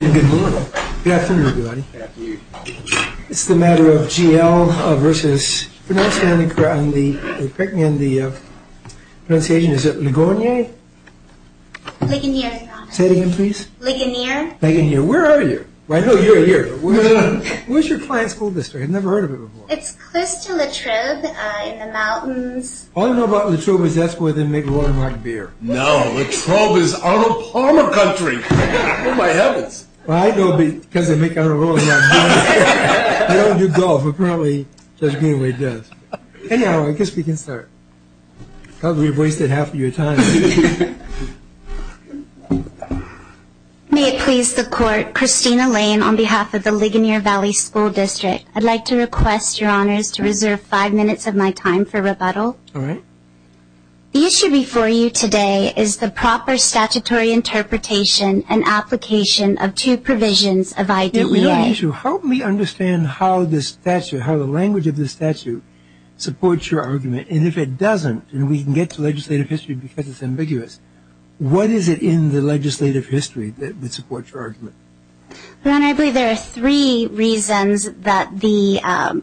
Good morning. Good afternoon, everybody. It's a matter of G.L. v. Ligonier Valley School. Say that again, please. Ligonier. Ligonier. Where are you? I know you're here. Where's your client's school district? I've never heard of it before. It's close to La Trobe in the mountains. All I know about La Trobe is that's where they make rolling hot beer. No, La Trobe is on the Palmer country. Who might have it? Well, I know because they make it on a rolling hot beer. I don't do golf. Apparently, Judge Greenway does. Anyhow, I guess we can start. Probably wasted half of your time. May it please the court. Christina Lane on behalf of the Ligonier Valley School District. I'd like to request your honors to reserve five minutes of my time for rebuttal. All right. The issue before you today is the proper statutory interpretation and application of two provisions of IDEA. Help me understand how the language of this statute supports your argument. And if it doesn't, and we can get to legislative history because it's ambiguous, what is it in the legislative history that would support your argument? Your Honor, I believe there are three reasons that the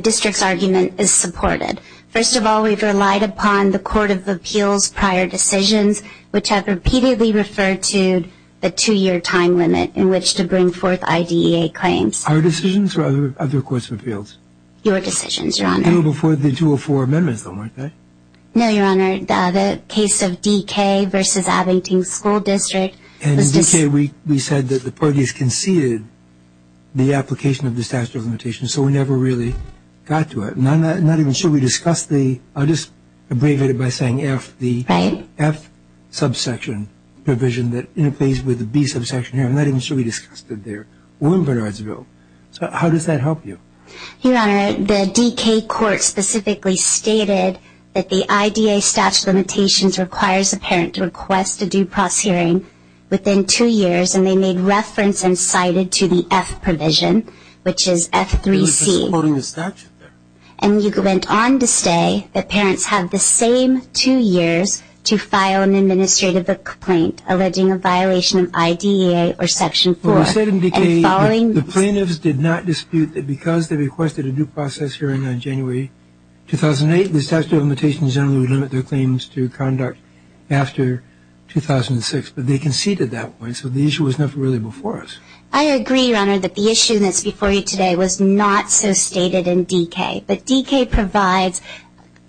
district's argument is supported. First of all, we've relied upon the Court of Appeals' prior decisions, which has repeatedly referred to the two-year time limit in which to bring forth IDEA claims. Our decisions or other courts' appeals? Your decisions, Your Honor. Before the 204 amendments, though, aren't they? No, Your Honor. The case of DK versus Abington School District. And in DK, we said that the parties conceded the application of the statute of limitations, so we never really got to it. I'm not even sure we discussed the – I'll just abbreviate it by saying F, the F subsection provision that interfaced with the B subsection here. I'm not even sure we discussed it there. So how does that help you? Your Honor, the DK court specifically stated that the IDEA statute of limitations requires the parent to request a due process hearing within two years, and they made reference and cited to the F provision, which is F3C. And you went on to say that parents have the same two years to file an administrative complaint alleging a violation of IDEA or Section 4. We said in DK that the plaintiffs did not dispute that because they requested a due process hearing in January 2008, the statute of limitations generally would limit their claims to conduct after 2006, but they conceded that point, so the issue was never really before us. I agree, Your Honor, that the issue that's before you today was not so stated in DK, but DK provides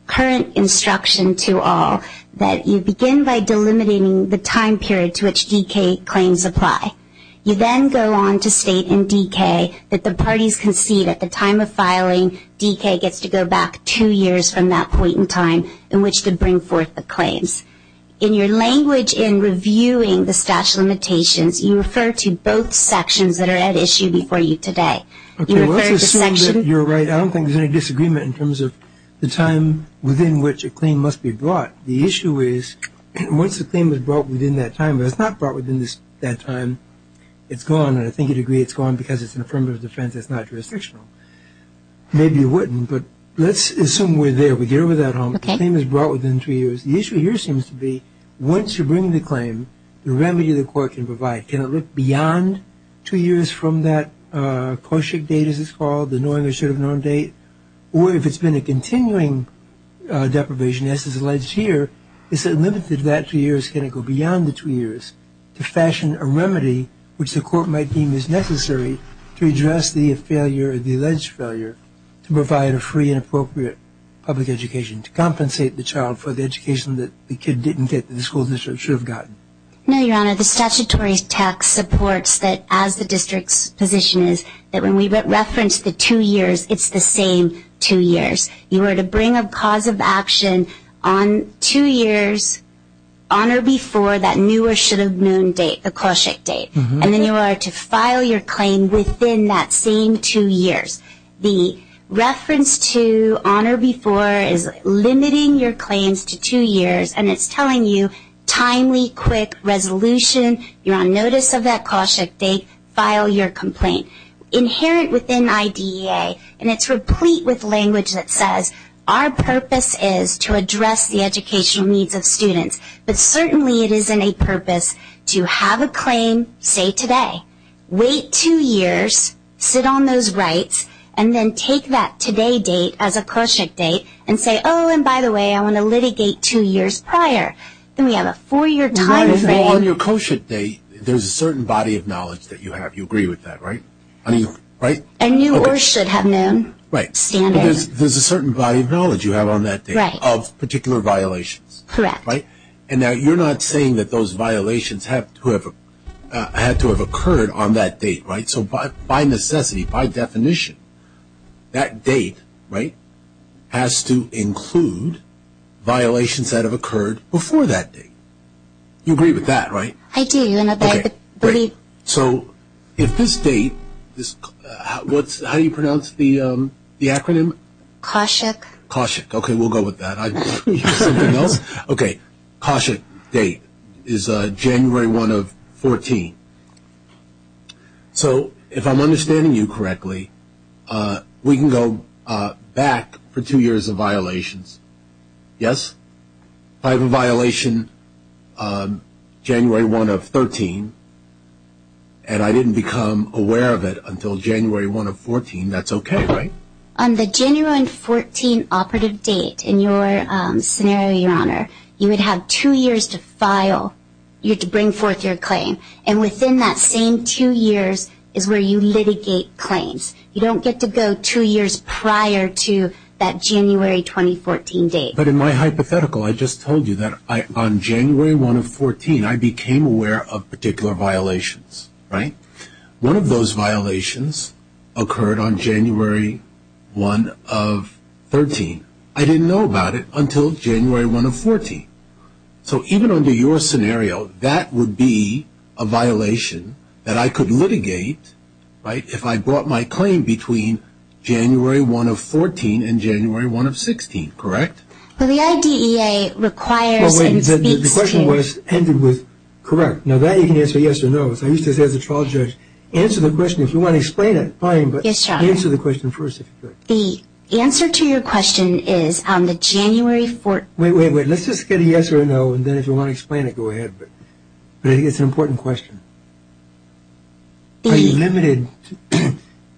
current instruction to all that you begin by delimiting the time period to which DK claims apply. You then go on to state in DK that the parties concede at the time of filing, DK gets to go back two years from that point in time in which to bring forth the claims. In your language in reviewing the statute of limitations, you refer to both sections that are at issue before you today. You refer to sections... Okay, well, I can assume that you're right. I don't think there's any disagreement in terms of the time within which a claim must be brought. The issue is once a claim is brought within that time, and it's not brought within that time, it's gone, and I think you'd agree it's gone because it's an affirmative defense, it's not jurisdictional. Maybe it wouldn't, but let's assume we're there, we get over that hump, the claim is brought within three years. The issue here seems to be once you bring the claim, the remedy the court can provide. Can it look beyond two years from that post-trig date, as it's called, the knowing or should have known date, or if it's been a continuing deprivation as is alleged here, is it limited to that two years, can it go beyond the two years to fashion a remedy which the court might deem is necessary to address the alleged failure to provide a free and appropriate public education, to compensate the child for the education that the kid didn't get, that the school district should have gotten? No, Your Honor, the statutory text supports that as the district's position is that when we reference the two years, it's the same two years. You were to bring a cause of action on two years, on or before that knew or should have known date, and then you are to file your claim within that same two years. The reference to on or before is limiting your claims to two years, and it's telling you timely, quick resolution, you're on notice of that cause shift date, file your complaint. Inherent within IDEA, and it's replete with language that says our purpose is to address the educational needs of students, but certainly it isn't a purpose to have a claim say today, wait two years, sit on those rights, and then take that today date as a cause shift date and say, oh, and by the way, I want to litigate two years prior. Then we have a four-year time frame. On your cause shift date, there's a certain body of knowledge that you have. You agree with that, right? And knew or should have known. Right. There's a certain body of knowledge you have on that date of particular violation. Correct. Right? And you're not saying that those violations have to have occurred on that date, right? So by necessity, by definition, that date, right, has to include violations that have occurred before that date. You agree with that, right? I do. Okay, great. So in this date, how do you pronounce the acronym? Cause shift. Cause shift. Okay, we'll go with that. Okay, cause shift date is January 1 of 14. So if I'm understanding you correctly, we can go back for two years of violations. Yes? If I have a violation January 1 of 13 and I didn't become aware of it until January 1 of 14, that's okay, right? On the January 14 operative date in your scenario, Your Honor, you would have two years to file. You have to bring forth your claim. And within that same two years is where you litigate claims. You don't get to go two years prior to that January 2014 date. But in my hypothetical, I just told you that on January 1 of 14, I became aware of particular violations, right? One of those violations occurred on January 1 of 13. I didn't know about it until January 1 of 14. So even under your scenario, that would be a violation that I could litigate, right, if I brought my claim between January 1 of 14 and January 1 of 16, correct? Well, the IDEA requires that you speak to me. The question was ended with correct. Now, that you can answer yes or no. I used to say as a trial judge, answer the question. If you want to explain it, fine, but answer the question first. The answer to your question is on the January 14th. Wait, wait, wait. Let's just get a yes or no and then if you want to explain it, go ahead. But I think it's an important question. Are you limited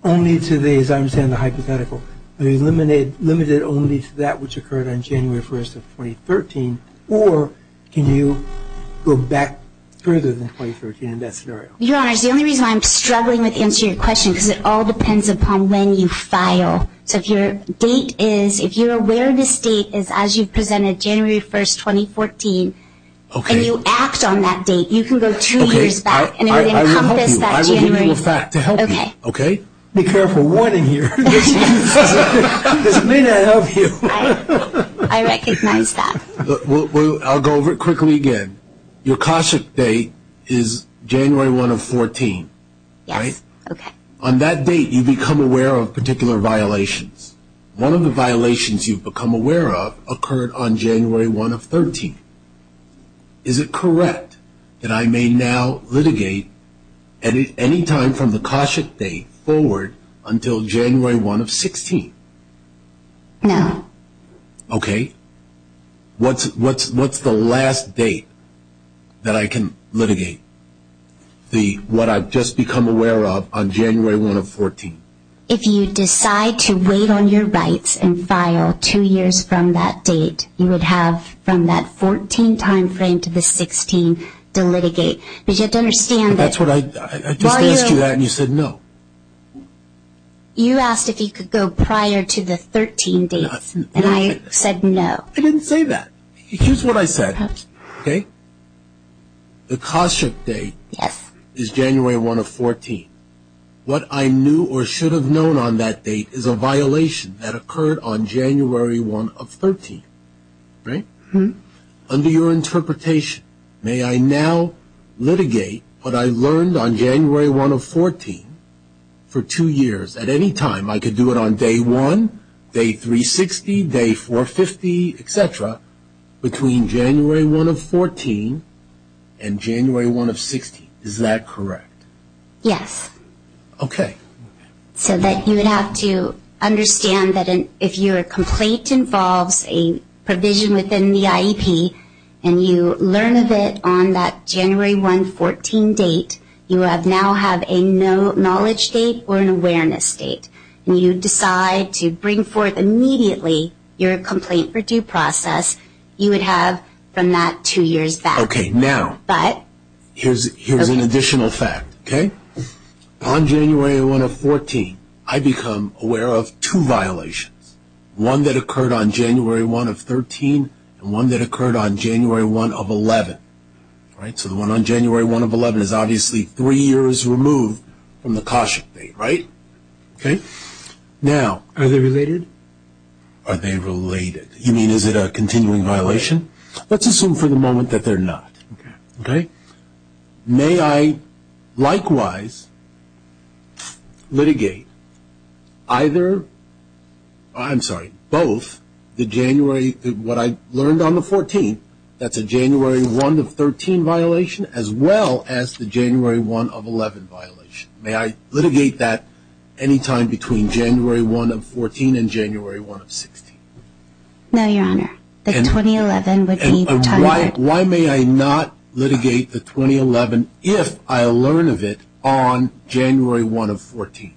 only to the, as I understand the hypothetical, are you limited only to that which occurred on January 1 of 2013 or can you go back further than 2013 in that scenario? Your Honor, the only reason I'm struggling with answering your question is because it all depends upon when you file. Because your date is, if you're aware of this date, it's as you presented January 1, 2014 and you asked on that date, you can go two years back and it would encompass that January. Okay, I will help you. I will go back to help you. Okay. Be careful what I hear. This may not help you. I recognize that. I'll go over it quickly again. Your caution date is January 1 of 14, right? Yes. Okay. On that date you become aware of particular violations. One of the violations you become aware of occurred on January 1 of 13. Is it correct that I may now litigate any time from the caution date forward until January 1 of 16? No. Okay. What's the last date that I can litigate what I've just become aware of on January 1 of 14? If you decide to wait on your rights and file two years from that date, you would have from that 14 time frame to the 16 to litigate. You just have to understand that. That's what I asked you that and you said no. You asked if you could go prior to the 13 dates and I said no. I didn't say that. Here's what I said, okay? The caution date is January 1 of 14. What I knew or should have known on that date is a violation that occurred on January 1 of 13, right? Mm-hmm. Under your interpretation, may I now litigate what I learned on January 1 of 14 for two years at any time? I could do it on day one, day 360, day 450, et cetera, between January 1 of 14 and January 1 of 16. Is that correct? Yes. Okay. So that you would have to understand that if your complaint involves a provision within the IEP and you learned of it on that January 1 of 14 date, you now have a no knowledge date or an awareness date. When you decide to bring forth immediately your complaint for due process, you would have from that two years back. Okay, now. But. Here's an additional fact, okay? On January 1 of 14, I become aware of two violations, one that occurred on January 1 of 13 and one that occurred on January 1 of 11, right? So the one on January 1 of 11 is obviously three years removed from the caution date, right? Okay. Now, are they related? Are they related? You mean is it a continuing violation? Let's assume for the moment that they're not. Okay. Okay. May I likewise litigate either, I'm sorry, both the January, what I learned on the 14th, that's a January 1 of 13 violation as well as the January 1 of 11 violation. May I litigate that any time between January 1 of 14 and January 1 of 16? No, Your Honor. And why may I not litigate the 2011 if I learn of it on January 1 of 14?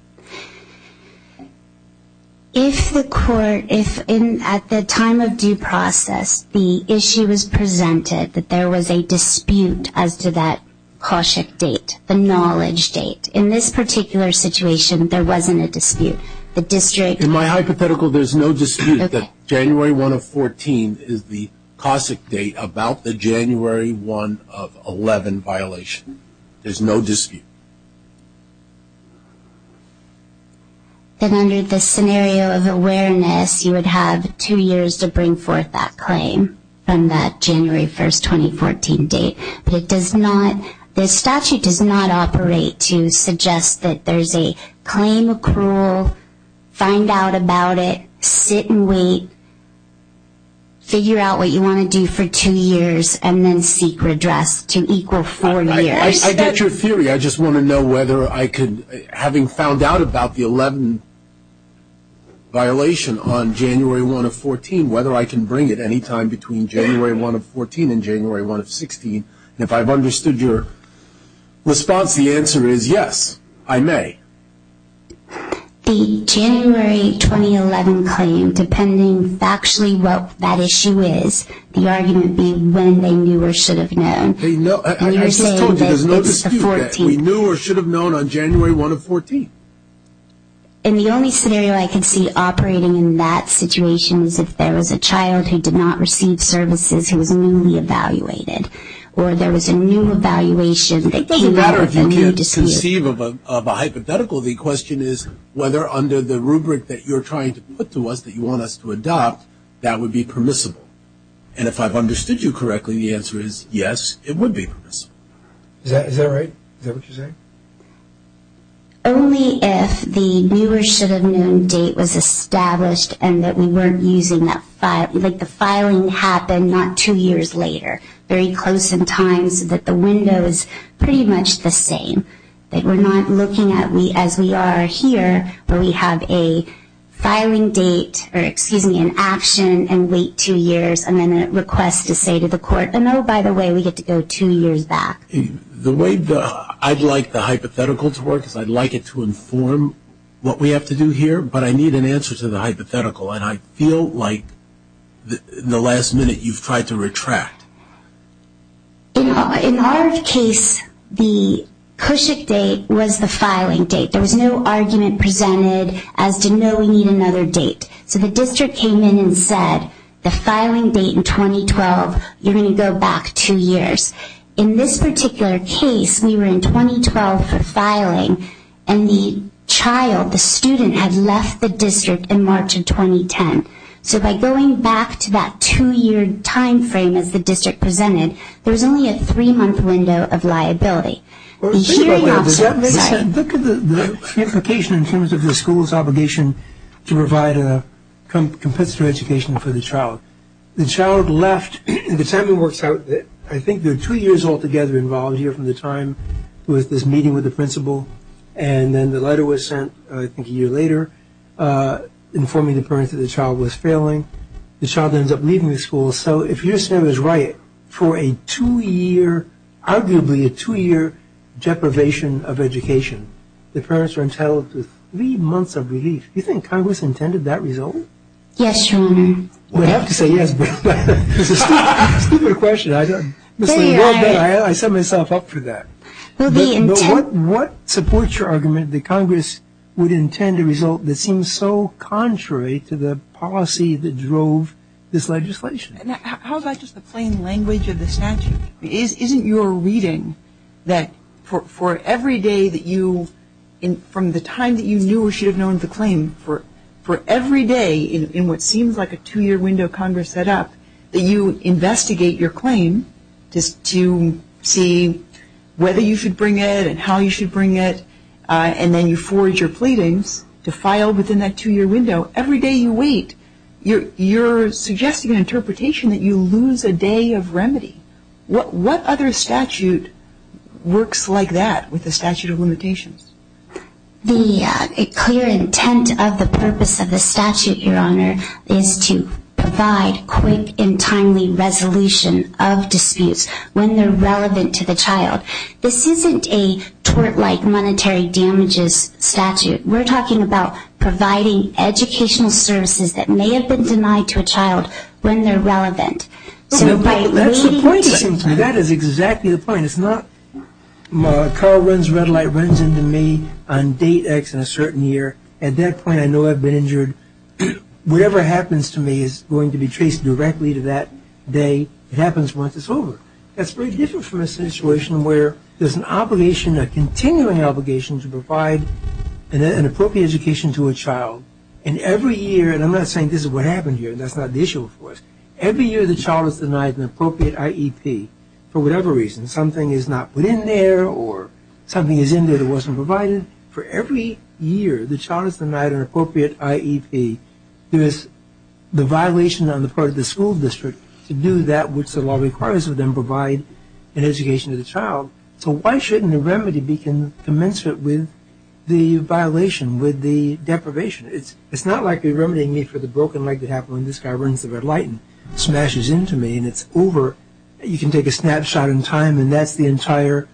If the court, if at the time of due process the issue was presented that there was a dispute as to that caution date, the knowledge date. In this particular situation, there wasn't a dispute. In my hypothetical, there's no dispute that January 1 of 14 is the caution date about the January 1 of 11 violation. There's no dispute. And under the scenario of awareness, you would have two years to bring forth that claim from that January 1, 2014 date. The statute does not operate to suggest that there's a claim accrual, find out about it, sit and wait, figure out what you want to do for two years, and then seek redress to equal four years. I get your theory. I just want to know whether I could, having found out about the 11 violation on January 1 of 14, whether I can bring it any time between January 1 of 14 and January 1 of 16. And if I've understood your response, the answer is yes, I may. The January 2011 claim, depending actually what that issue is, the argument being when they knew or should have known. There's no dispute that we knew or should have known on January 1 of 14. And the only scenario I could see operating in that situation is if there was a child who did not receive services who was newly evaluated or there was a new evaluation. It doesn't matter if you can't conceive of a hypothetical. The question is whether under the rubric that you're trying to put to us that you want us to adopt, that would be permissible. And if I've understood you correctly, the answer is yes, it would be permissible. Is that right? Is that what you're saying? Only if the knew or should have known date was established and that we weren't using that, like the filing happened not two years later, very close in time so that the window is pretty much the same. Like we're not looking at, as we are here, where we have a filing date or, excuse me, an action and wait two years and then a request to say to the court, and oh, by the way, we get to go two years back. The way I'd like the hypothetical to work is I'd like it to inform what we have to do here, but I need an answer to the hypothetical, and I feel like the last minute you've tried to retract. In our case, the cushion date was the filing date. There was no argument presented as to no, we need another date. So the district came in and said the filing date in 2012, you're going to go back two years. In this particular case, we were in 2012 for filing, and the child, the student, had left the district in March of 2010. So by going back to that two-year time frame as the district presented, there's only a three-month window of liability. Look at the implication in terms of the school's obligation to provide a complete school education for the child. The child left. The family worked out that I think there were two years altogether involved here from the time there was this meeting with the principal, and then the letter was sent I think a year later informing the parents that the child was failing. The child ends up leaving the school. So if you're saying it was right for a two-year, arguably a two-year deprivation of education, the parents are entitled to three months of relief. Do you think Congress intended that result? Yes, surely. I would have to say yes, but it's a stupid question. I set myself up for that. What supports your argument that Congress would intend a result that seems so contrary to the policy that drove this legislation? How about just the plain language of the statute? Isn't your reading that for every day that you, from the time that you knew or should have known the claim, for every day in what seems like a two-year window Congress set up, that you investigate your claim to see whether you should bring it and how you should bring it, and then you forge your pleadings to file within that two-year window? Every day you wait, you're suggesting an interpretation that you lose a day of remedy. What other statute works like that with the statute of limitations? The clear intent of the purpose of the statute, Your Honor, is to provide quick and timely resolution of disputes when they're relevant to the child. This isn't a tort-like monetary damages statute. We're talking about providing educational services that may have been denied to a child when they're relevant. That is exactly the point. It's not my car runs red light, runs into me on date X in a certain year. At that point I know I've been injured. Whatever happens to me is going to be traced directly to that day. It happens once it's over. That's very different from a situation where there's an obligation, a continuing obligation to provide an appropriate education to a child. And every year, and I'm not saying this is what happened here, that's not the issue with FWISC. Every year the child is denied an appropriate IEP for whatever reason. Something is not put in there or something is in there that wasn't provided. For every year the child is denied an appropriate IEP. There's the violation on the part of the school district to do that which the law requires of them, provide an education to the child. So why shouldn't a remedy be commensurate with the violation, with the deprivation? It's not like the remedy I need for the broken leg that happened when this guy runs the red light and smashes into me and it's over. You can take a snapshot in time and that's the entire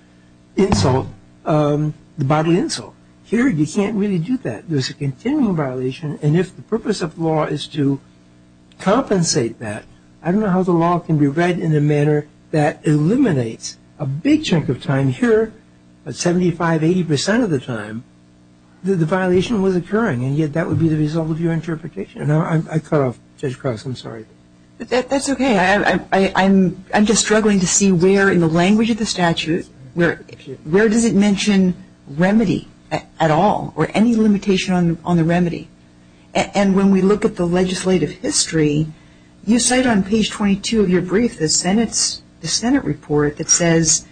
insult, the body insult. Here you can't really do that. There's a continuing violation and if the purpose of law is to compensate that, I don't know how the law can be read in a manner that eliminates a big chunk of time here, 75, 80% of the time, that the violation was occurring and yet that would be the result of your interpretation. I cut off, Judge Cross, I'm sorry. That's okay. I'm just struggling to see where in the language of the statute, where did it mention remedy at all or any limitation on the remedy? And when we look at the legislative history, you cite on page 22 of your brief the Senate report that says,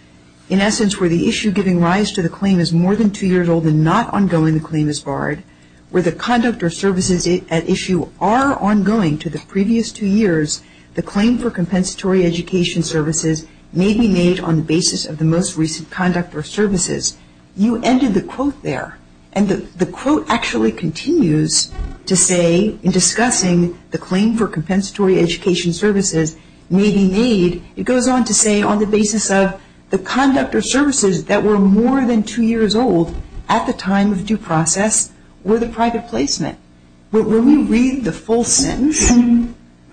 in essence, where the issue giving rise to the claim is more than two years old and not ongoing, the claim is barred, where the conduct or services at issue are ongoing to the previous two years, the claim for compensatory education services may be made on the basis of the most recent conduct or services. You ended the quote there and the quote actually continues to say, in discussing the claim for compensatory education services may be made, it goes on to say on the basis of the conduct or services that were more than two years old at the time of due process or the private placement. When we read the full sentence,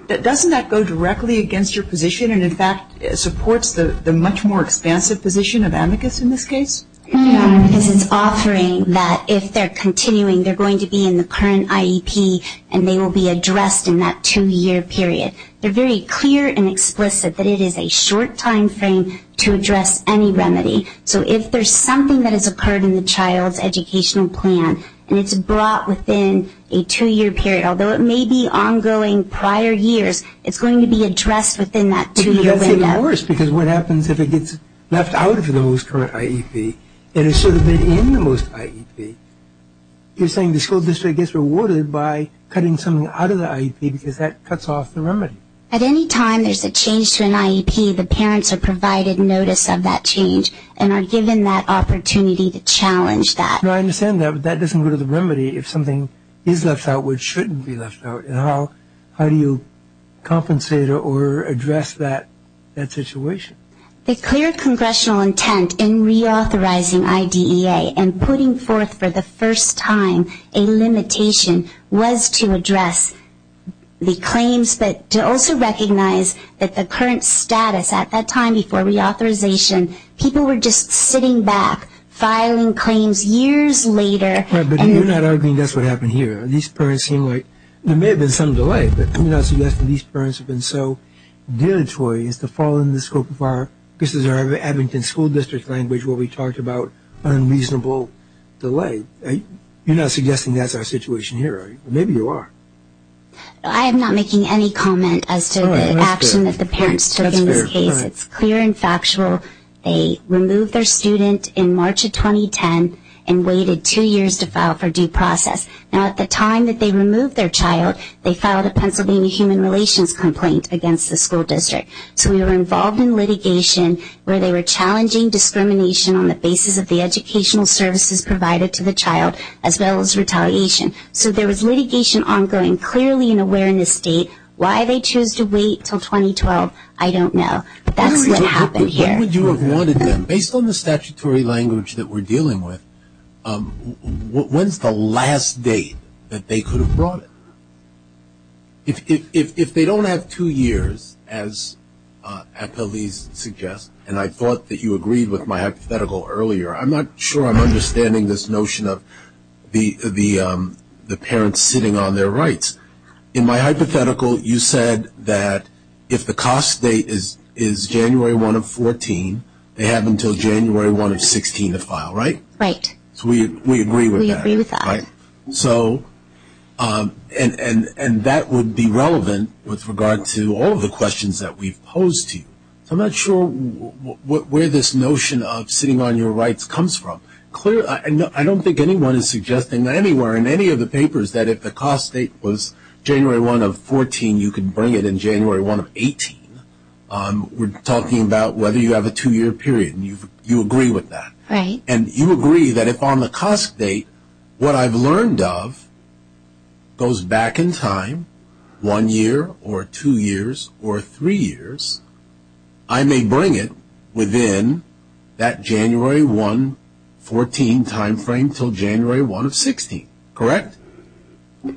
doesn't that go directly against your position and, in fact, supports the much more expansive position of amicus in this case? It's offering that if they're continuing, they're going to be in the current IEP and they will be addressed in that two-year period. They're very clear and explicit that it is a short time frame to address any remedy. So if there's something that has occurred in the child's educational plan and it's brought within a two-year period, although it may be ongoing prior years, it's going to be addressed within that two-year window. It's even worse because what happens if it gets left out of the most current IEP and it's sort of been in the most IEP? You're saying the school district gets rewarded by cutting something out of the IEP because that cuts off the remedy. At any time there's a change to an IEP, the parents are provided notice of that change and are given that opportunity to challenge that. I understand that, but that doesn't go to the remedy. If something is left out, which shouldn't be left out, how do you compensate or address that situation? The clear congressional intent in reauthorizing IDEA and putting forth for the first time a limitation was to address the claims but to also recognize that the current status at that time before reauthorization, people were just sitting back filing claims years later. But you're not arguing that's what happened here. These parents seem like there may have been some delay, but I'm not suggesting these parents have been so deleterious to fall in the scope of our this is our Abington school district language where we talked about unreasonable delay. You're not suggesting that's our situation here, are you? Maybe you are. I am not making any comment as to the action that the parents took in the case. So it's clear and factual. They removed their student in March of 2010 and waited two years to file for due process. Now, at the time that they removed their child, they filed a Pennsylvania Human Relations complaint against the school district. So we were involved in litigation where they were challenging discrimination on the basis of the educational services provided to the child as well as retaliation. So there was litigation ongoing, clearly an awareness state. Why they choose to wait until 2012, I don't know. But that's what happened here. Based on the statutory language that we're dealing with, when's the last date that they could have brought it? If they don't have two years, as Ethel Lee suggests, and I thought that you agreed with my hypothetical earlier, I'm not sure I'm understanding this notion of the parents sitting on their rights. In my hypothetical, you said that if the cost date is January 1 of 2014, they have until January 1 of 2016 to file, right? Right. So we agree with that. We agree with that. And that would be relevant with regard to all of the questions that we posed to you. So I'm not sure where this notion of sitting on your rights comes from. I don't think anyone is suggesting anywhere in any of the papers that if the cost date was January 1 of 14, you could bring it in January 1 of 18. We're talking about whether you have a two-year period, and you agree with that. Right. And you agree that if on the cost date what I've learned of goes back in time, one year or two years or three years, I may bring it within that January 1 of 14 timeframe until January 1 of 16, correct? No,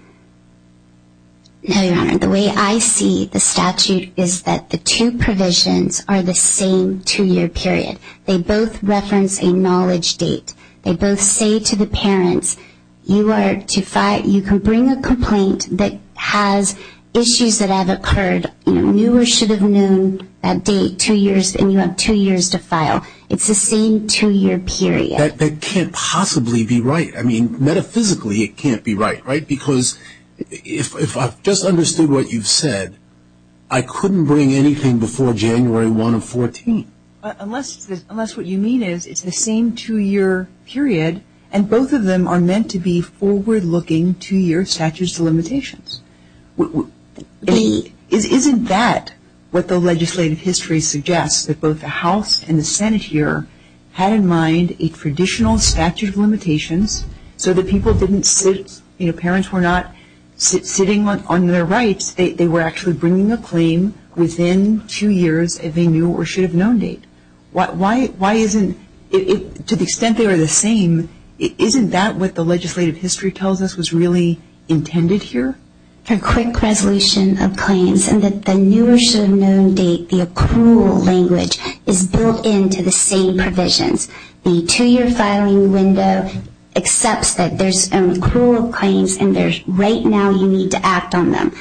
Your Honor. The way I see the statute is that the two provisions are the same two-year period. They both reference a knowledge date. They both say to the parents, you can bring a complaint that has issues that have occurred, you should have known that date two years, and you have two years to file. It's the same two-year period. That can't possibly be right. I mean, metaphysically it can't be right, right? Because if I've just understood what you've said, I couldn't bring anything before January 1 of 14. Unless what you mean is it's the same two-year period, and both of them are meant to be forward-looking two-year statute of limitations. Isn't that what the legislative history suggests, that both the House and the Senate here had in mind a traditional statute of limitations so that parents were not sitting on their rights, they were actually bringing a claim within two years of a new or should-have-known date? Why isn't, to the extent they are the same, isn't that what the legislative history tells us was really intended here? A quick resolution of claims and that the new or should-have-known date, the accrual language, is built into the same provisions. The two-year filing window accepts that there's accrual claims and right now you need to act on them.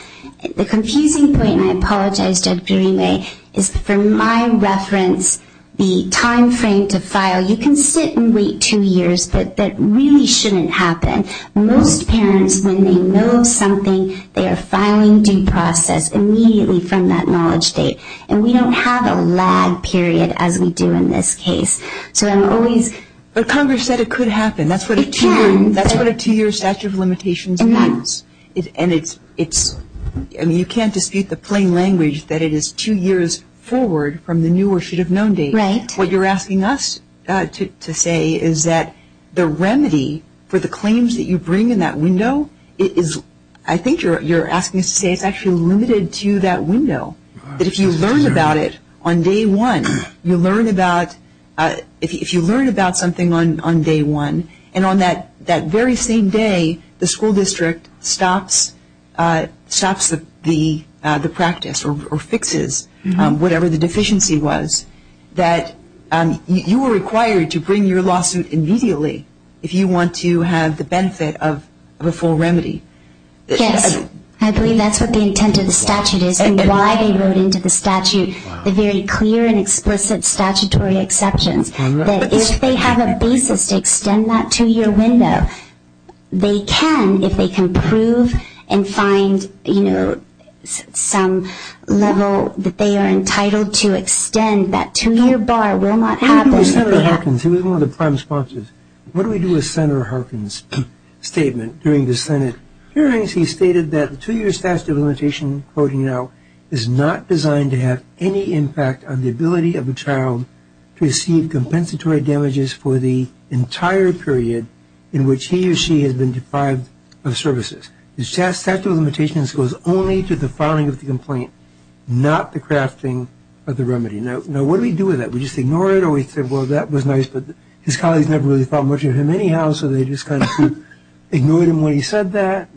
The confusing point, and I apologize just during this, is for my reference the time frame to file, you can sit and wait two years, but that really shouldn't happen. Most parents, when they know something, they are filing due process immediately from that knowledge date, and we don't have a lag period as we do in this case. So I'm always... But Congress said it could happen. It can. That's what a two-year statute of limitations means. You can't dispute the plain language that it is two years forward from the new or should-have-known date. Right. What you're asking us to say is that the remedy for the claims that you bring in that window, I think you're asking us to say it's actually limited to that window. But if you learn about it on day one, if you learn about something on day one, and on that very same day the school district stops the practice or fixes whatever the deficiency was, that you are required to bring your lawsuit immediately if you want to have the benefit of the full remedy. Yes. I believe that's what the intent of the statute is and why they wrote into the statute the very clear and explicit statutory exception, that if they have a basis to extend that two-year window, they can if they can prove and find, you know, some level that they are entitled to extend that two-year bar will not happen. Senator Harkins, he was one of the prime sponsors. What do we do with Senator Harkin's statement during the Senate hearings? He stated that the two-year statute of limitations, quoting now, is not designed to have any impact on the ability of a child to receive compensatory damages for the entire period in which he or she has been deprived of services. The statute of limitations goes only to the filing of the complaint, not the crafting of the remedy. Now, what do we do with that? We just ignore it or we say, well, that was nice, but his colleagues never really thought much of him anyhow, so they just kind of ignored him when he said that.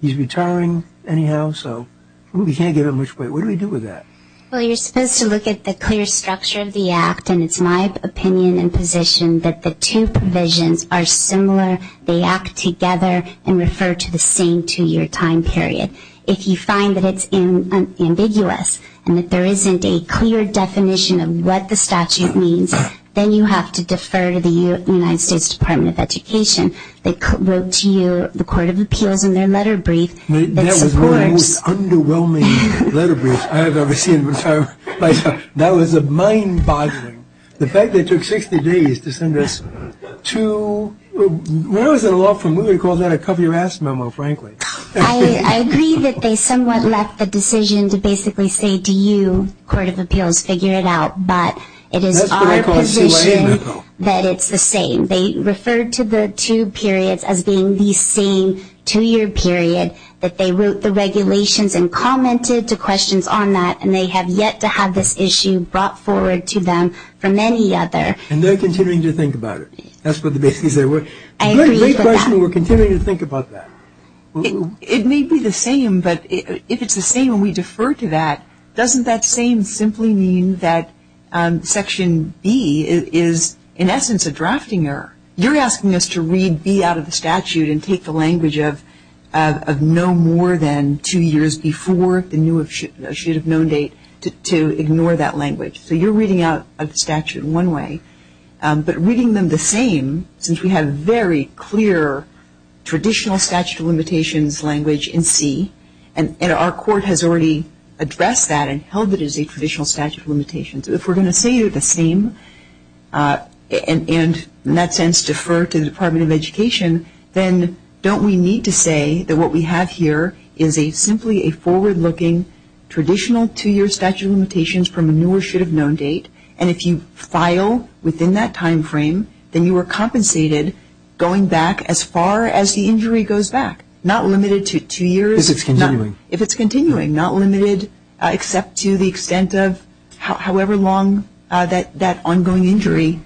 He's retiring anyhow, so we can't give him much weight. What do we do with that? Well, you're supposed to look at the clear structure of the act, and it's my opinion and position that the two provisions are similar. They act together and refer to the same two-year time period. If you find that it's ambiguous and that there isn't a clear definition of what the statute means, then you have to defer to the United States Department of Education. They wrote to you, the Court of Appeals, in their letter brief. That was one of the most underwhelming letter briefs I have ever seen in my entire life. That was mind-boggling. The fact that it took 60 days to send us two, what is it, a law firm really calls that a cover-your-ass memo, frankly. I agree that they somewhat left the decision to basically say to you, the Court of Appeals, figure it out, but it is our position that it's the same. They referred to the two periods as being the same two-year period, that they wrote the regulations and commented to questions on that, and they have yet to have this issue brought forward to them from any other. And they're considering to think about it. That's what they basically said. I agree with that. We're considering to think about that. It may be the same, but if it's the same and we defer to that, doesn't that same simply mean that Section B is, in essence, a drafting error? You're asking us to read B out of the statute and take the language of no more than two years before the should-have-known date to ignore that language. So you're reading out of the statute one way, but reading them the same, since we have very clear traditional statute of limitations language in C, and our court has already addressed that and held it as a traditional statute of limitations. If we're going to say they're the same and, in that sense, defer to the Department of Education, then don't we need to say that what we have here is simply a forward-looking, traditional two-year statute of limitations from a new or should-have-known date, and if you file within that time frame, then you are compensated going back as far as the injury goes back, not limited to two years. If it's continuing. If it's continuing, not limited except to the extent of however long that ongoing injury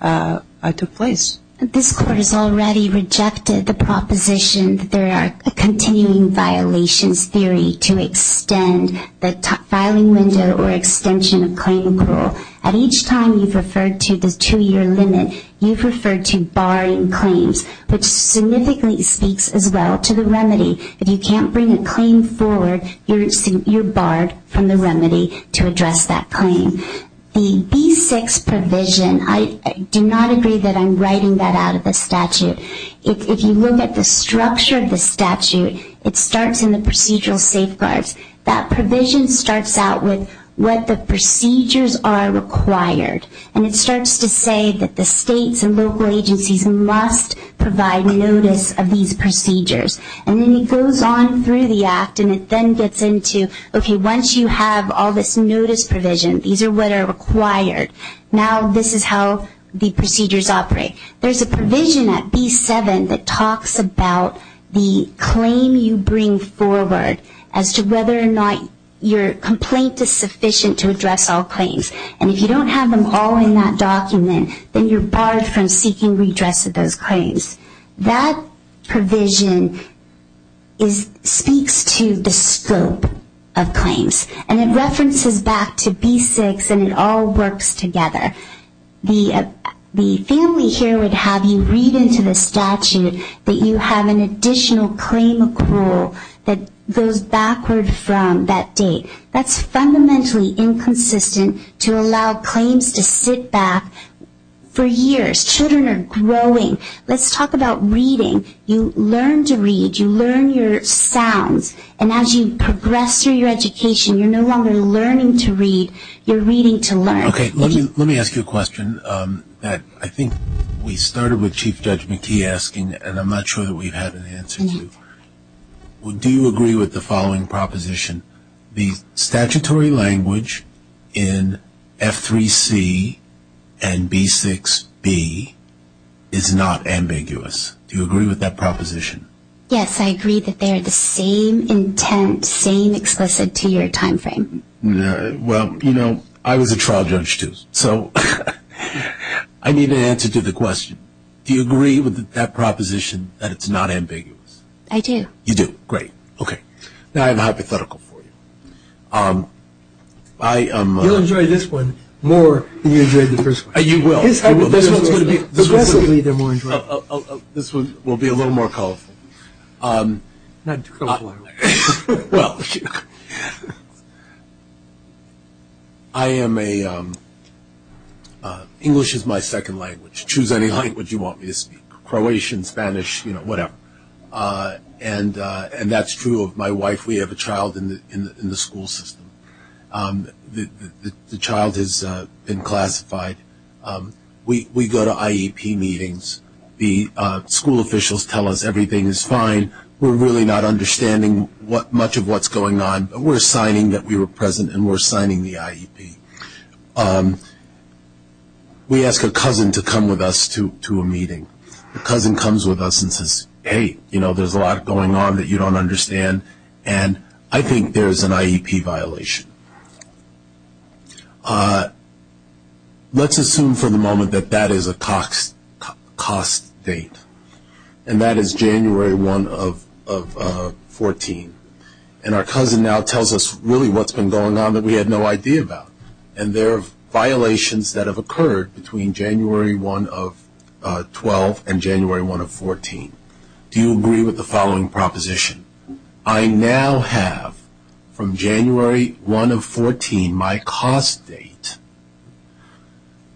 took place. This Court has already rejected the proposition that there are continuing violations theory to extend the filing window or extension of claim rule. At each time you've referred to the two-year limit, you've referred to barring claims, which significantly speaks as well to the remedy. If you can't bring a claim forward, you're barred from the remedy to address that claim. The B-6 provision, I do not agree that I'm writing that out of the statute. If you look at the structure of the statute, it starts in the procedural safeguards. That provision starts out with what the procedures are required, and it starts to say that the states and local agencies must provide notice of these procedures. And then it goes on through the Act, and it then gets into, okay, once you have all this notice provision, these are what are required. Now this is how the procedures operate. There's a provision at B-7 that talks about the claim you bring forward as to whether or not your complaint is sufficient to address all claims. And if you don't have them all in that document, then you're barred from seeking redress of those claims. That provision speaks to the scope of claims. And it references back to B-6, and it all works together. The family here would have you read into the statute that you have an additional claim accrual that goes backwards from that date. That's fundamentally inconsistent to allow claims to sit back for years. Children are growing. Let's talk about reading. You learn to read. You learn your sounds. And as you progress through your education, you're no longer learning to read. You're reading to learn. Okay. Let me ask you a question that I think we started with Chief Judge McKee asking, and I'm not sure that we've had an answer to. Do you agree with the following proposition? The statutory language in F-3C and B-6B is not ambiguous. Do you agree with that proposition? Yes, I agree that they are the same intent, same explicit to your time frame. Well, you know, I was a trial judge, too, so I need an answer to the question. Do you agree with that proposition, that it's not ambiguous? I do. You do. Great. Okay. Now I'm hypothetical for you. You'll enjoy this one more than you enjoyed the first one. You will. This one will be a little more colorful. Well, I am a ‑‑ English is my second language. Choose any language you want me to speak, Croatian, Spanish, you know, whatever. And that's true of my wife. We have a child in the school system. The child has been classified. We go to IEP meetings. The school officials tell us everything is fine. We're really not understanding much of what's going on, but we're signing that we were present and we're signing the IEP. We ask a cousin to come with us to a meeting. The cousin comes with us and says, hey, you know, there's a lot going on that you don't understand, and I think there's an IEP violation. Let's assume for the moment that that is a cost date, and that is January 1 of 14. And our cousin now tells us really what's been going on that we had no idea about. And there are violations that have occurred between January 1 of 12 and January 1 of 14. Do you agree with the following proposition? I now have from January 1 of 14 my cost date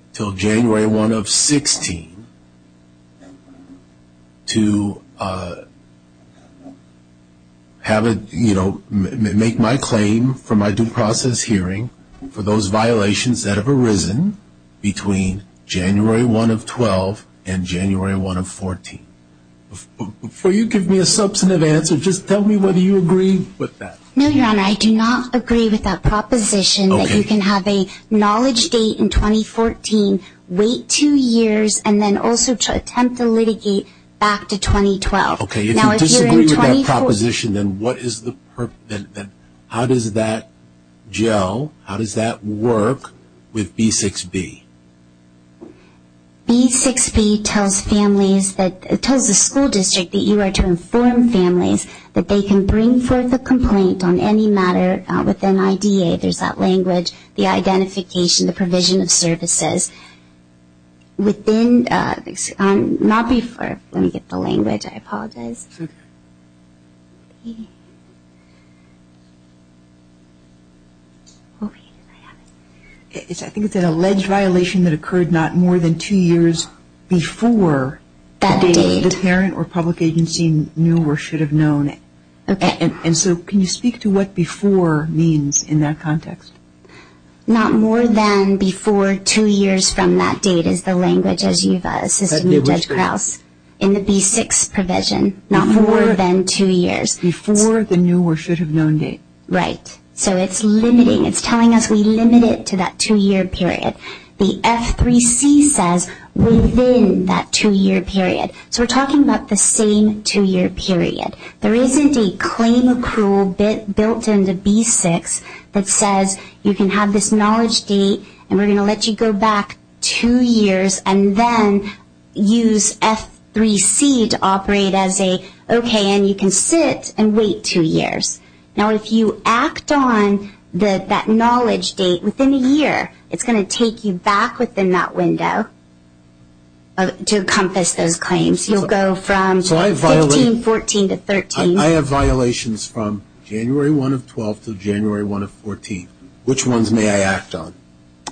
until January 1 of 16 to have a, you know, make my claim for my due process hearing for those violations that have arisen between January 1 of 12 and January 1 of 14. Before you give me a substantive answer, just tell me whether you agree with that. No, John, I do not agree with that proposition that you can have a knowledge date in 2014, wait two years, and then also attempt to litigate back to 2012. Okay, if you disagree with that proposition, then how does that gel, how does that work with B6B? B6B tells families that, tells the school district that you are to inform families that they can bring forth a complaint on any matter within IDA. There's that language, the identification, the provision of services. Within, not before, let me get the language, I apologize. I think it's an alleged violation that occurred not more than two years before the parent or public agency knew or should have known it. And so can you speak to what before means in that context? Not more than before two years from that date is the language, as you said, in the B6 provision, not more than two years. Before the knew or should have known date. Right. So it's limiting, it's telling us we limit it to that two-year period. The F3C says within that two-year period. So we're talking about the same two-year period. There isn't a claim pool built in the B6 that says you can have this knowledge date and we're going to let you go back two years and then use F3C to operate as a, okay, and you can sit and wait two years. Now, if you act on that knowledge date within a year, it's going to take you back within that window to encompass those claims. You'll go from 18, 14 to 13. I have violations from January 1 of 12 to January 1 of 14. Which ones may I act on?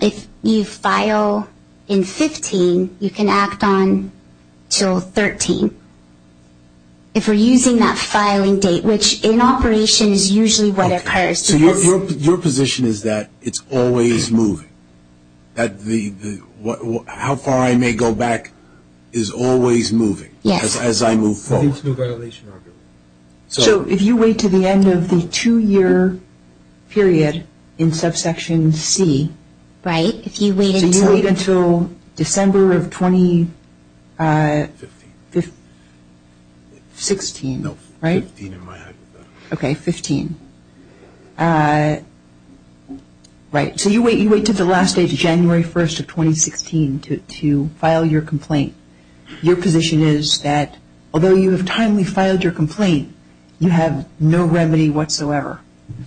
If you file in 15, you can act on until 13. If we're using that filing date, which in operation is usually what occurs. So your position is that it's always moving? How far I may go back is always moving as I move forward? Yes. So if you wait to the end of the two-year period in subsection C, so you wait until December of 2016, right? Okay, 15. Right. So you wait until the last day, January 1 of 2016 to file your complaint. Your position is that although you have timely filed your complaint, you have no remedy whatsoever?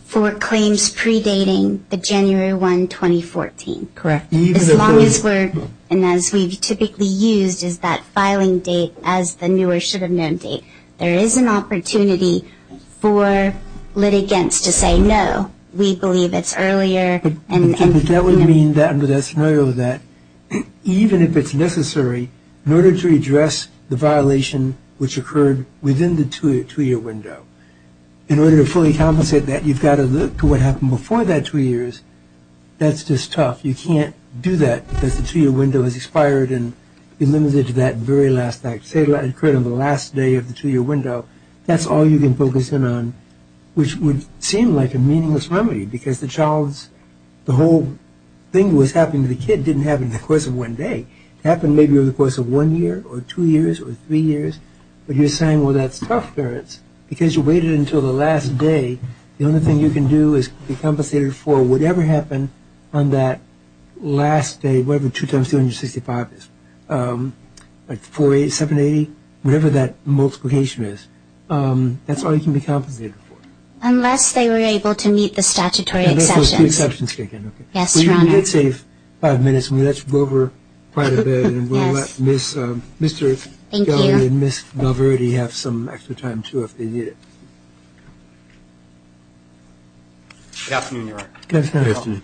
For claims predating the January 1, 2014. Correct. As long as we're, and as we typically use, is that filing date as the new or should have been date. There is an opportunity for litigants to say no. We believe it's earlier. That would mean that under that scenario that even if it's necessary, murder to address the violation which occurred within the two-year window. In order to fully complicate that, you've got to look to what happened before that two years. That's just tough. You can't do that because the two-year window is expired and you're limited to that very last act. Say that occurred on the last day of the two-year window. That's all you can put this in on, which would seem like a meaningless remedy because the child's, the whole thing that was happening to the kid didn't happen in the course of one day. It happened maybe over the course of one year or two years or three years, but you're saying, well, that's tough, because you waited until the last day. The only thing you can do is be compensated for whatever happened on that last day, whatever 2 times 365 is, like 4-8, 7-8, whatever that multiplication is. That's all you can be compensated for. Unless they were able to meet the statutory exception. Let's do exceptions again. Yes, your Honor. We're going to save five minutes. Let's go over quite a bit. We'll let Mr. Scali and Ms. Valverde have some extra time, too, if they need it. Good afternoon, Your Honor. Good afternoon.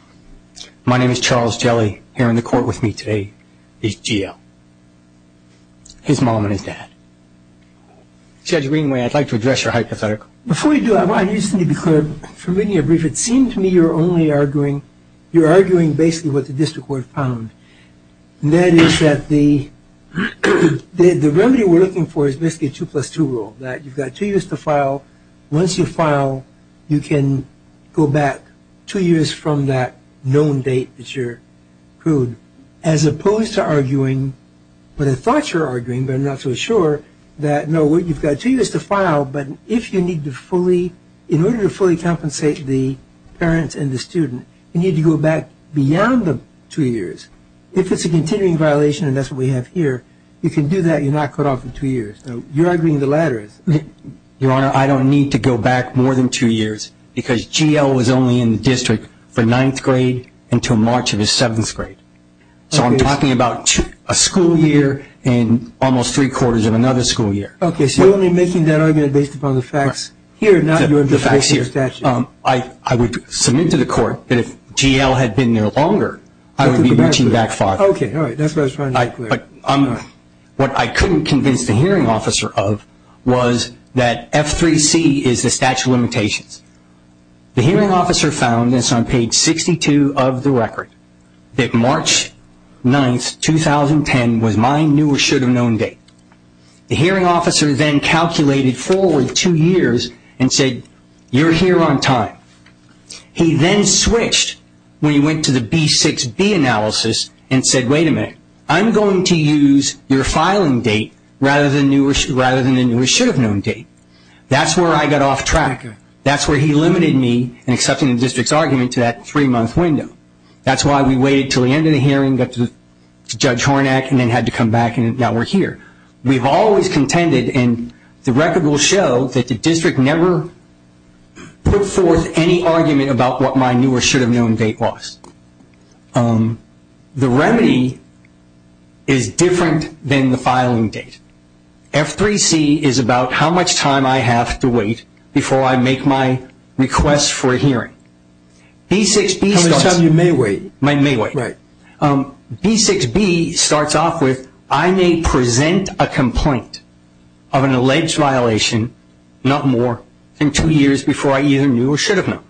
My name is Charles Scali. Here in the court with me today is Geo. His moment is that. Judge Greenway, I'd like to address your hypothetical. Before you do, I want to use the media brief. It seems to me you're only arguing. You're arguing basically what the district court found, and that is that the remedy we're looking for is basically a 2 plus 2 rule, that you've got two years to file. Once you file, you can go back two years from that known date that you're proved, as opposed to arguing what I thought you were arguing, but I'm not so sure that, no, what you've got two years to file, but if you need to fully, in order to fully compensate the parents and the student, you need to go back beyond the two years. If it's a continuing violation, and that's what we have here, you can do that. You're not caught off in two years. You're arguing the latter. Your Honor, I don't need to go back more than two years, because Geo was only in the district from ninth grade until March of his seventh grade. So I'm talking about a school year and almost three quarters of another school year. Okay, so you're only making that argument based upon the facts here, not your statute. I would submit to the court that if Geo had been there longer, I would be reaching back farther. Okay, all right. That's what I was trying to make clear. What I couldn't convince the hearing officer of was that F3C is the statute of limitations. The hearing officer found this on page 62 of the record, that March 9th, 2010, was my new or should have known date. The hearing officer then calculated forward two years and said, you're here on time. He then switched when he went to the B6B analysis and said, wait a minute, I'm going to use your filing date rather than the new or should have known date. That's where I got off track. That's where he limited me in accepting the district's argument to that three-month window. That's why we waited until the end of the hearing, got to Judge Hornack, and then had to come back and now we're here. We've always contended, and the record will show, that the district never put forth any argument about what my new or should have known date was. The remedy is different than the filing date. F3C is about how much time I have to wait before I make my request for a hearing. B6B starts off with, I may present a complaint of an alleged violation, not more than two years before I either knew or should have known,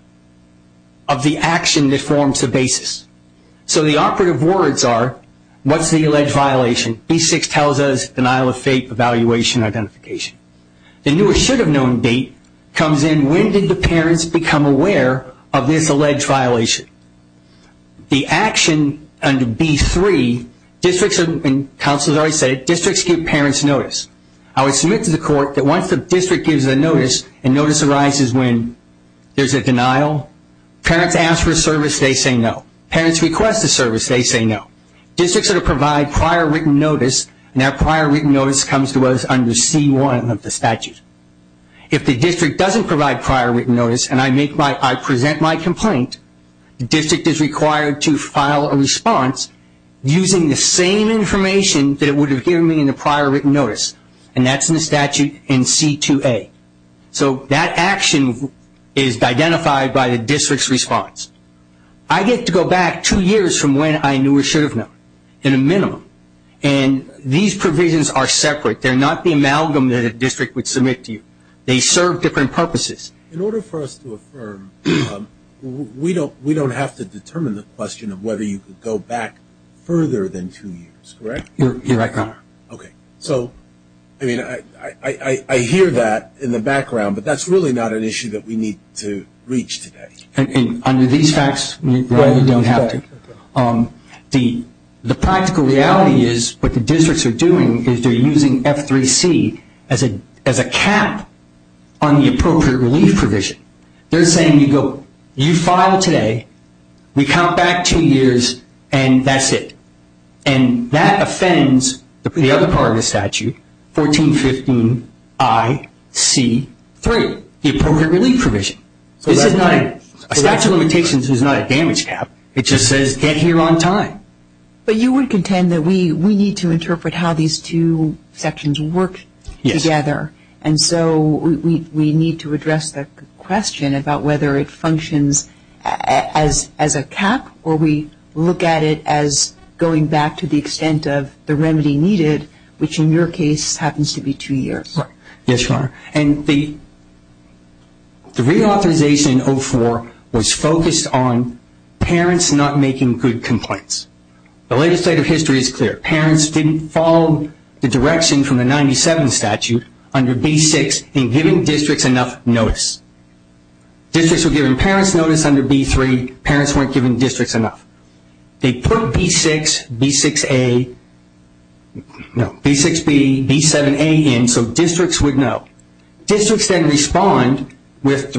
of the action that forms the basis. So the operative words are, what's the alleged violation? B6 tells us, denial of faith, evaluation, identification. The new or should have known date comes in, when did the parents become aware of this alleged violation? The action under B3, districts give parents notice. I would submit to the court that once the district gives the notice, and notice arises when there's a denial, parents ask for service, they say no. Parents request the service, they say no. Districts are to provide prior written notice, and that prior written notice comes to us under C1 of the statute. If the district doesn't provide prior written notice, and I present my complaint, the district is required to file a response using the same information that it would have given me in the prior written notice, and that's in the statute in C2A. So that action is identified by the district's response. I get to go back two years from when I knew or should have known, in a minimum, and these provisions are separate. They're not the amalgam that a district would submit to you. They serve different purposes. In order for us to affirm, we don't have to determine the question of whether you could go back further than two years, correct? You're right, Connor. Okay. So, I mean, I hear that in the background, but that's really not an issue that we need to reach today. Under these facts, we probably don't have to. The practical reality is what the districts are doing is they're using F3C as a cap on the appropriate relief provision. They're saying, look, you file today, we count back two years, and that's it. And that offends the other part of the statute, 1415IC3, the appropriate relief provision. It's not a damage cap. It just says get here on time. But you would contend that we need to interpret how these two sections work together. Yes. And so we need to address the question about whether it functions as a cap or we look at it as going back to the extent of the remedy needed, which in your case happens to be two years. Right. Yes, Connor. And the reauthorization in 04 was focused on parents not making good complaints. The legislative history is clear. Parents didn't follow the direction from the 97 statute under B6 in giving districts enough notice. Districts were giving parents notice under B3. Parents weren't giving districts enough. They put B6, B6A, no, B6B, B7A in so districts would know. Districts then respond if